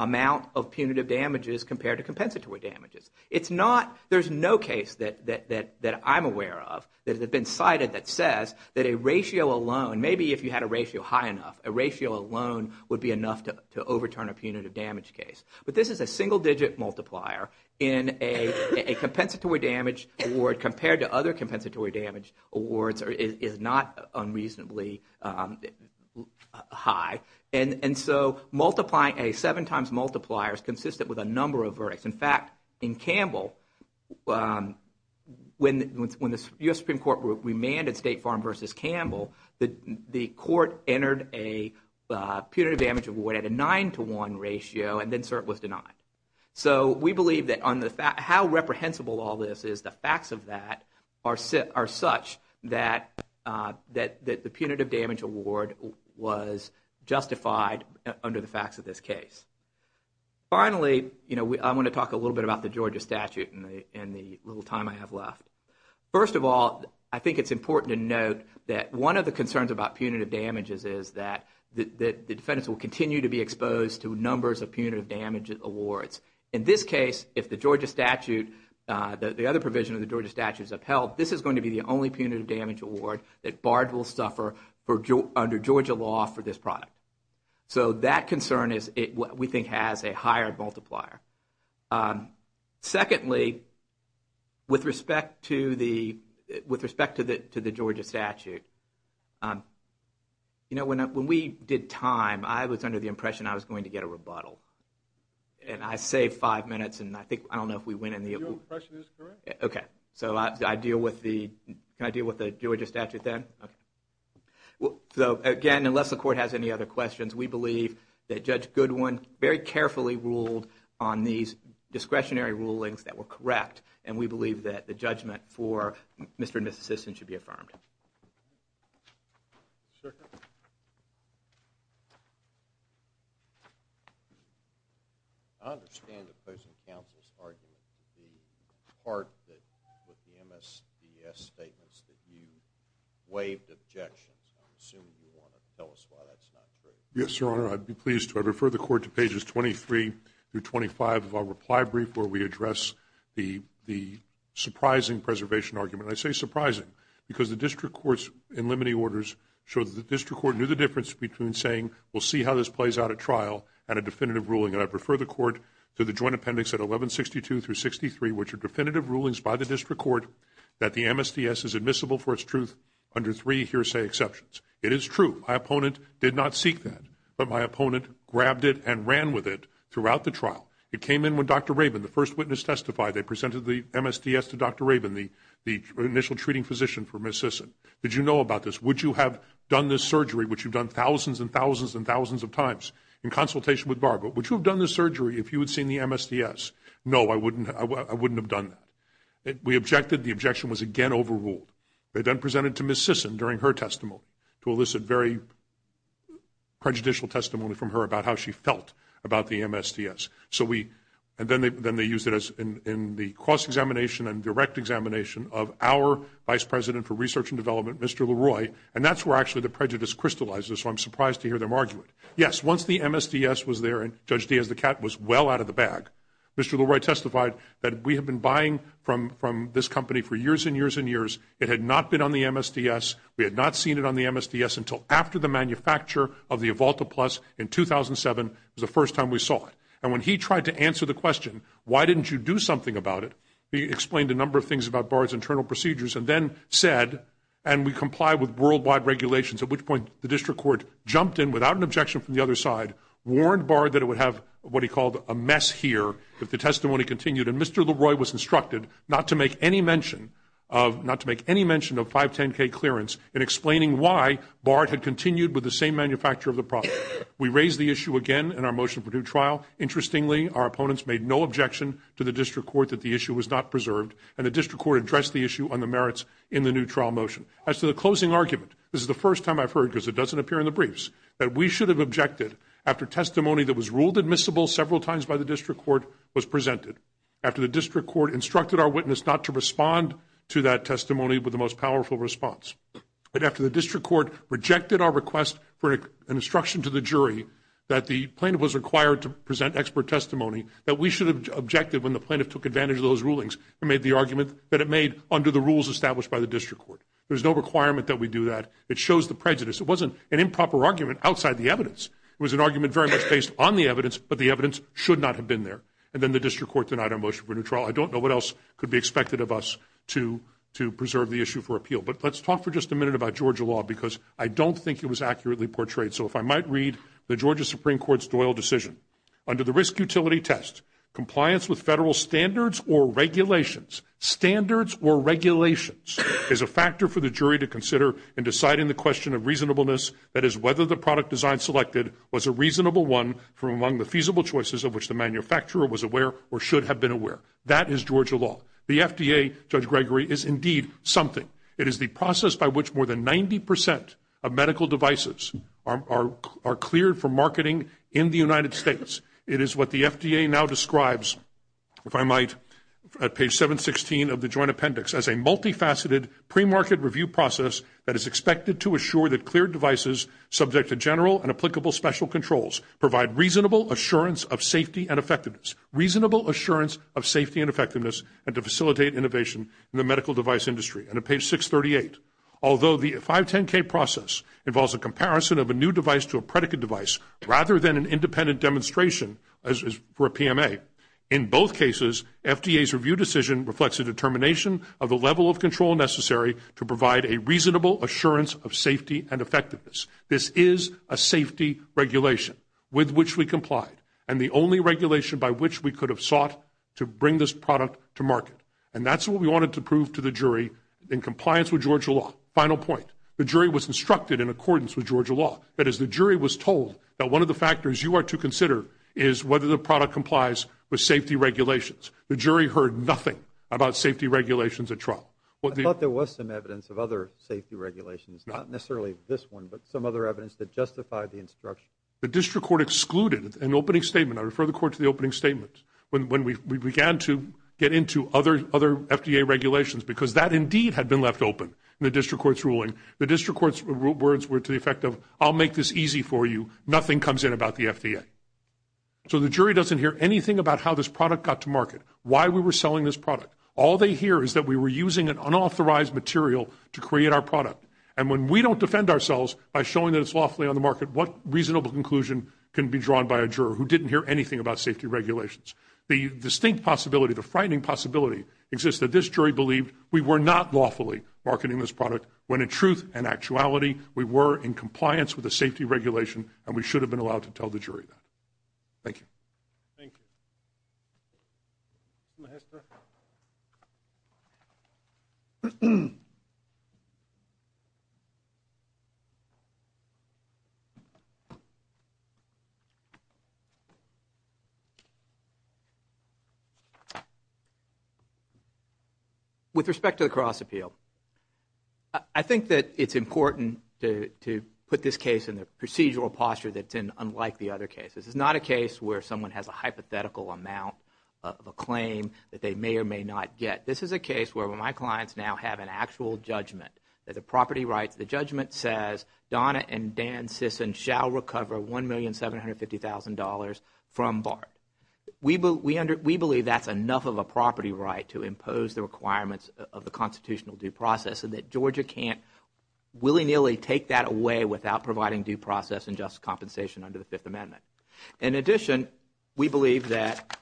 amount of punitive damages compared to compensatory damages. It's not – there's no case that I'm aware of that has been cited that says that a ratio alone, maybe if you had a ratio high enough, a ratio alone would be enough to overturn a punitive damage case. But this is a single-digit multiplier in a compensatory damage award compared to other compensatory damage awards is not unreasonably high. And so multiplying a seven-times multiplier is consistent with a number of verdicts. In fact, in Campbell, when the U.S. Supreme Court remanded State Farm v. Campbell, the court entered a punitive damage award at a nine-to-one ratio, and then cert was denied. So we believe that on the – how reprehensible all this is, the facts of that are such that the punitive damage award was justified under the facts of this case. Finally, I want to talk a little bit about the Georgia statute in the little time I have left. First of all, I think it's important to note that one of the concerns about punitive damages is that the defendants will continue to be exposed to numbers of punitive damage awards. In this case, if the Georgia statute – the other provision of the Georgia statute is upheld, this is going to be the only punitive damage award that barred will suffer under Georgia law for this product. So that concern is what we think has a higher multiplier. Secondly, with respect to the Georgia statute, when we did time, I was under the impression I was going to get a rebuttal. And I saved five minutes, and I think – I don't know if we went in the – Your impression is correct. Okay. So I deal with the – can I deal with the Georgia statute then? Okay. So again, unless the court has any other questions, we believe that Judge Goodwin very carefully ruled on these discretionary rulings that were correct, and we believe that the judgment for Mr. and Mrs. Sisson should be affirmed. I understand the opposing counsel's argument to the part that – waived objections. I assume you want to tell us why that's not true. Yes, Your Honor. I'd be pleased to. I refer the court to pages 23 through 25 of our reply brief where we address the surprising preservation argument. I say surprising because the district court's in limiting orders showed that the district court knew the difference between saying, we'll see how this plays out at trial, and a definitive ruling. And I prefer the court to the joint appendix at 1162 through 63, which are definitive rulings by the district court that the MSDS is admissible for its truth under three hearsay exceptions. It is true. My opponent did not seek that. But my opponent grabbed it and ran with it throughout the trial. It came in when Dr. Rabin, the first witness, testified. They presented the MSDS to Dr. Rabin, the initial treating physician for Mrs. Sisson. Did you know about this? Would you have done this surgery, which you've done thousands and thousands and thousands of times in consultation with Barbara, would you have done this surgery if you had seen the MSDS? No, I wouldn't have done that. We objected. The objection was again overruled. They then presented it to Mrs. Sisson during her testimony to elicit very prejudicial testimony from her about how she felt about the MSDS. And then they used it in the cross-examination and direct examination of our Vice President for Research and Development, Mr. Leroy, and that's where actually the prejudice crystallizes, so I'm surprised to hear them argue it. Yes, once the MSDS was there and Judge Diaz the cat was well out of the bag, Mr. Leroy testified that we had been buying from this company for years and years and years. It had not been on the MSDS. We had not seen it on the MSDS until after the manufacture of the Evolta Plus in 2007. It was the first time we saw it. And when he tried to answer the question, why didn't you do something about it, he explained a number of things about Bard's internal procedures and then said, and we complied with worldwide regulations, at which point the district court jumped in without an objection from the other side, warned Bard that it would have what he called a mess here if the testimony continued, and Mr. Leroy was instructed not to make any mention of 510K clearance in explaining why Bard had continued with the same manufacture of the product. We raised the issue again in our motion for due trial. Interestingly, our opponents made no objection to the district court that the issue was not preserved, and the district court addressed the issue on the merits in the new trial motion. As to the closing argument, this is the first time I've heard, because it doesn't appear in the briefs, that we should have objected after testimony that was ruled admissible several times by the district court was presented, after the district court instructed our witness not to respond to that testimony with the most powerful response, but after the district court rejected our request for an instruction to the jury that the plaintiff was required to present expert testimony, that we should have objected when the plaintiff took advantage of those rulings and made the argument that it made under the rules established by the district court. There's no requirement that we do that. It shows the prejudice. It wasn't an improper argument outside the evidence. It was an argument very much based on the evidence, but the evidence should not have been there. And then the district court denied our motion for due trial. I don't know what else could be expected of us to preserve the issue for appeal. But let's talk for just a minute about Georgia law, because I don't think it was accurately portrayed. So if I might read the Georgia Supreme Court's Doyle decision. Under the risk utility test, compliance with federal standards or regulations, standards or regulations, is a factor for the jury to consider in deciding the question of reasonableness, that is whether the product design selected was a reasonable one from among the feasible choices of which the manufacturer was aware or should have been aware. That is Georgia law. The FDA, Judge Gregory, is indeed something. It is the process by which more than 90% of medical devices are cleared for marketing in the United States. It is what the FDA now describes, if I might, at page 716 of the joint appendix, as a multifaceted premarket review process that is expected to assure that cleared devices, subject to general and applicable special controls, provide reasonable assurance of safety and effectiveness, reasonable assurance of safety and effectiveness, and to facilitate innovation in the medical device industry. And at page 638, although the 510K process involves a comparison of a new device to a predicate device, rather than an independent demonstration for a PMA, in both cases, FDA's review decision reflects a determination of the level of control necessary to provide a reasonable assurance of safety and effectiveness. This is a safety regulation with which we complied, and the only regulation by which we could have sought to bring this product to market. And that's what we wanted to prove to the jury in compliance with Georgia law. Final point, the jury was instructed in accordance with Georgia law, that is the jury was told that one of the factors you are to consider is whether the product complies with safety regulations. The jury heard nothing about safety regulations at trial. I thought there was some evidence of other safety regulations, not necessarily this one, but some other evidence that justified the instruction. The district court excluded an opening statement. I refer the court to the opening statement when we began to get into other FDA regulations, because that indeed had been left open in the district court's ruling. The district court's words were to the effect of, I'll make this easy for you. Nothing comes in about the FDA. So the jury doesn't hear anything about how this product got to market, why we were selling this product. All they hear is that we were using an unauthorized material to create our product. And when we don't defend ourselves by showing that it's lawfully on the market, what reasonable conclusion can be drawn by a juror who didn't hear anything about safety regulations? The distinct possibility, the frightening possibility, exists that this jury believed we were not lawfully marketing this product, when in truth and actuality we were in compliance with the safety regulation and we should have been allowed to tell the jury that. Thank you. Thank you. With respect to the cross appeal, I think that it's important to put this case in the procedural posture that's unlike the other cases. It's not a case where someone has a hypothetical amount of a claim that they may or may not get. This is a case where my clients now have an actual judgment. The property rights, the judgment says Donna and Dan Sisson shall recover $1,750,000 from BART. We believe that's enough of a property right to impose the requirements of the constitutional due process and that Georgia can't willy-nilly take that away without providing due process and just compensation under the Fifth Amendment. In addition, we believe that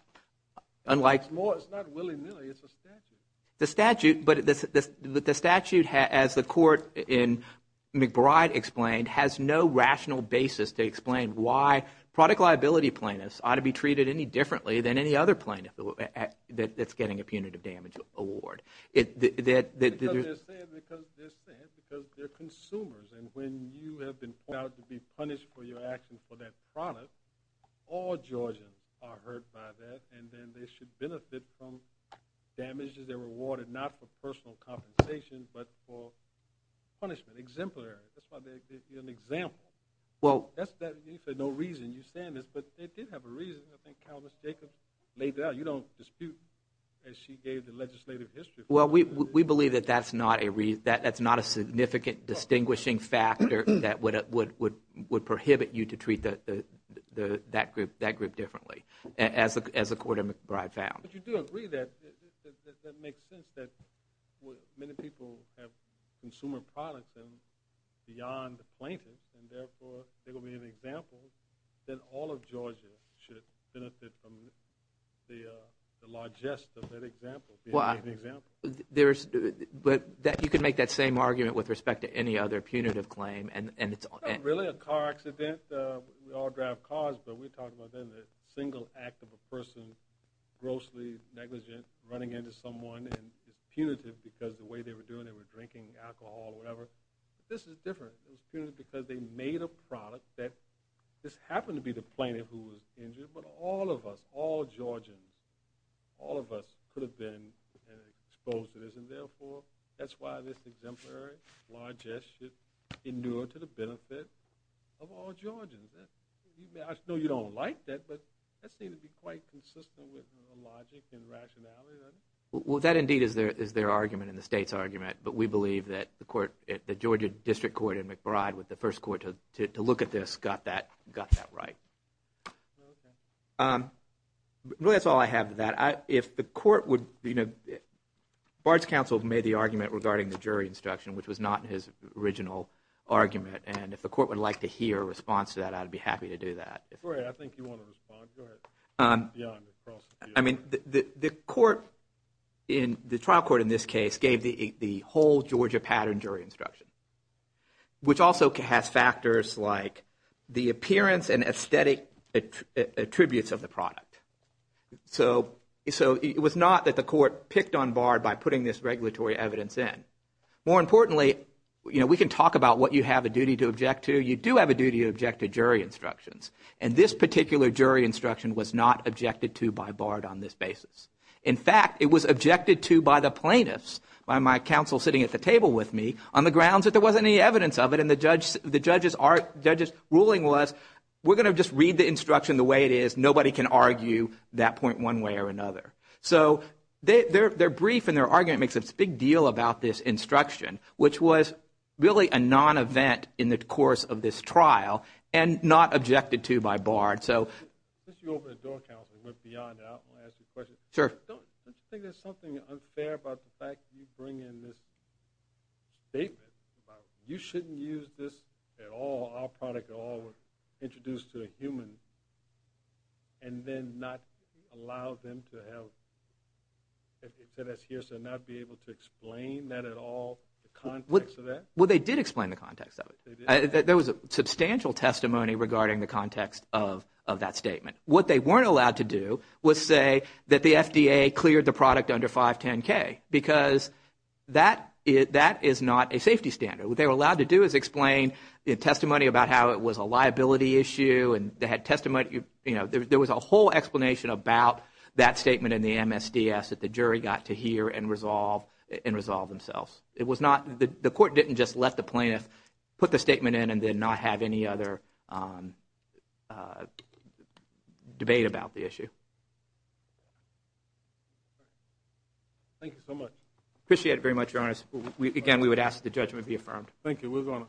unlike... It's not willy-nilly, it's a statute. The statute, as the court in McBride explained, has no rational basis to explain why product liability plaintiffs ought to be treated any differently than any other plaintiff that's getting a punitive damage award. Because they're consumers and when you have been pointed out to be punished for your action for that product, all Georgians are hurt by that and then they should benefit from damages. They're rewarded not for personal compensation but for punishment, exemplary. That's why they're an example. That's for no reason you're saying this, but it did have a reason. I think Countess Jacobs laid it out. You don't dispute as she gave the legislative history. Well, we believe that that's not a significant distinguishing factor that would prohibit you to treat that group differently as the court in McBride found. But you do agree that it makes sense that many people have consumer products and beyond the plaintiff and, therefore, they're going to be an example. Then all of Georgia should benefit from the largesse of that example, being an example. But you could make that same argument with respect to any other punitive claim. It's not really a car accident. We all drive cars, but we're talking about a single act of a person grossly negligent, running into someone, and it's punitive because the way they were doing it, they were drinking alcohol or whatever. This is different. It was punitive because they made a product that this happened to be the plaintiff who was injured, but all of us, all Georgians, all of us could have been exposed to this, and, therefore, that's why this exemplary largesse should endure to the benefit of all Georgians. I know you don't like that, but that seems to be quite consistent with logic and rationality, doesn't it? Well, that, indeed, is their argument and the state's argument, but we believe that the Georgia District Court in McBride with the first court to look at this got that right. Okay. Really, that's all I have to that. If the court would, you know, Bard's counsel made the argument regarding the jury instruction, which was not his original argument, and if the court would like to hear a response to that, I'd be happy to do that. Go ahead. I think you want to respond. Go ahead. Yeah. I mean, the court in the trial court in this case gave the whole Georgia pattern jury instruction, which also has factors like the appearance and aesthetic attributes of the product. So it was not that the court picked on Bard by putting this regulatory evidence in. More importantly, you know, we can talk about what you have a duty to object to. You do have a duty to object to jury instructions, and this particular jury instruction was not objected to by Bard on this basis. In fact, it was objected to by the plaintiffs, by my counsel sitting at the table with me, on the grounds that there wasn't any evidence of it and the judge's ruling was, we're going to just read the instruction the way it is. Nobody can argue that point one way or another. So their brief and their argument makes a big deal about this instruction, which was really a non-event in the course of this trial and not objected to by Bard. Since you opened the door, counsel, and went beyond that, I want to ask you a question. Sure. Don't you think there's something unfair about the fact that you bring in this statement about you shouldn't use this at all, our product at all, if I were introduced to a human, and then not allow them to have, to not be able to explain that at all, the context of that? Well, they did explain the context of it. There was substantial testimony regarding the context of that statement. What they weren't allowed to do was say that the FDA cleared the product under 510K because that is not a safety standard. What they were allowed to do is explain testimony about how it was a liability issue. There was a whole explanation about that statement in the MSDS that the jury got to hear and resolve themselves. The court didn't just let the plaintiff put the statement in and then not have any other debate about the issue. Thank you so much. Appreciate it very much, Your Honor. Again, we would ask that the judgment be affirmed. Thank you.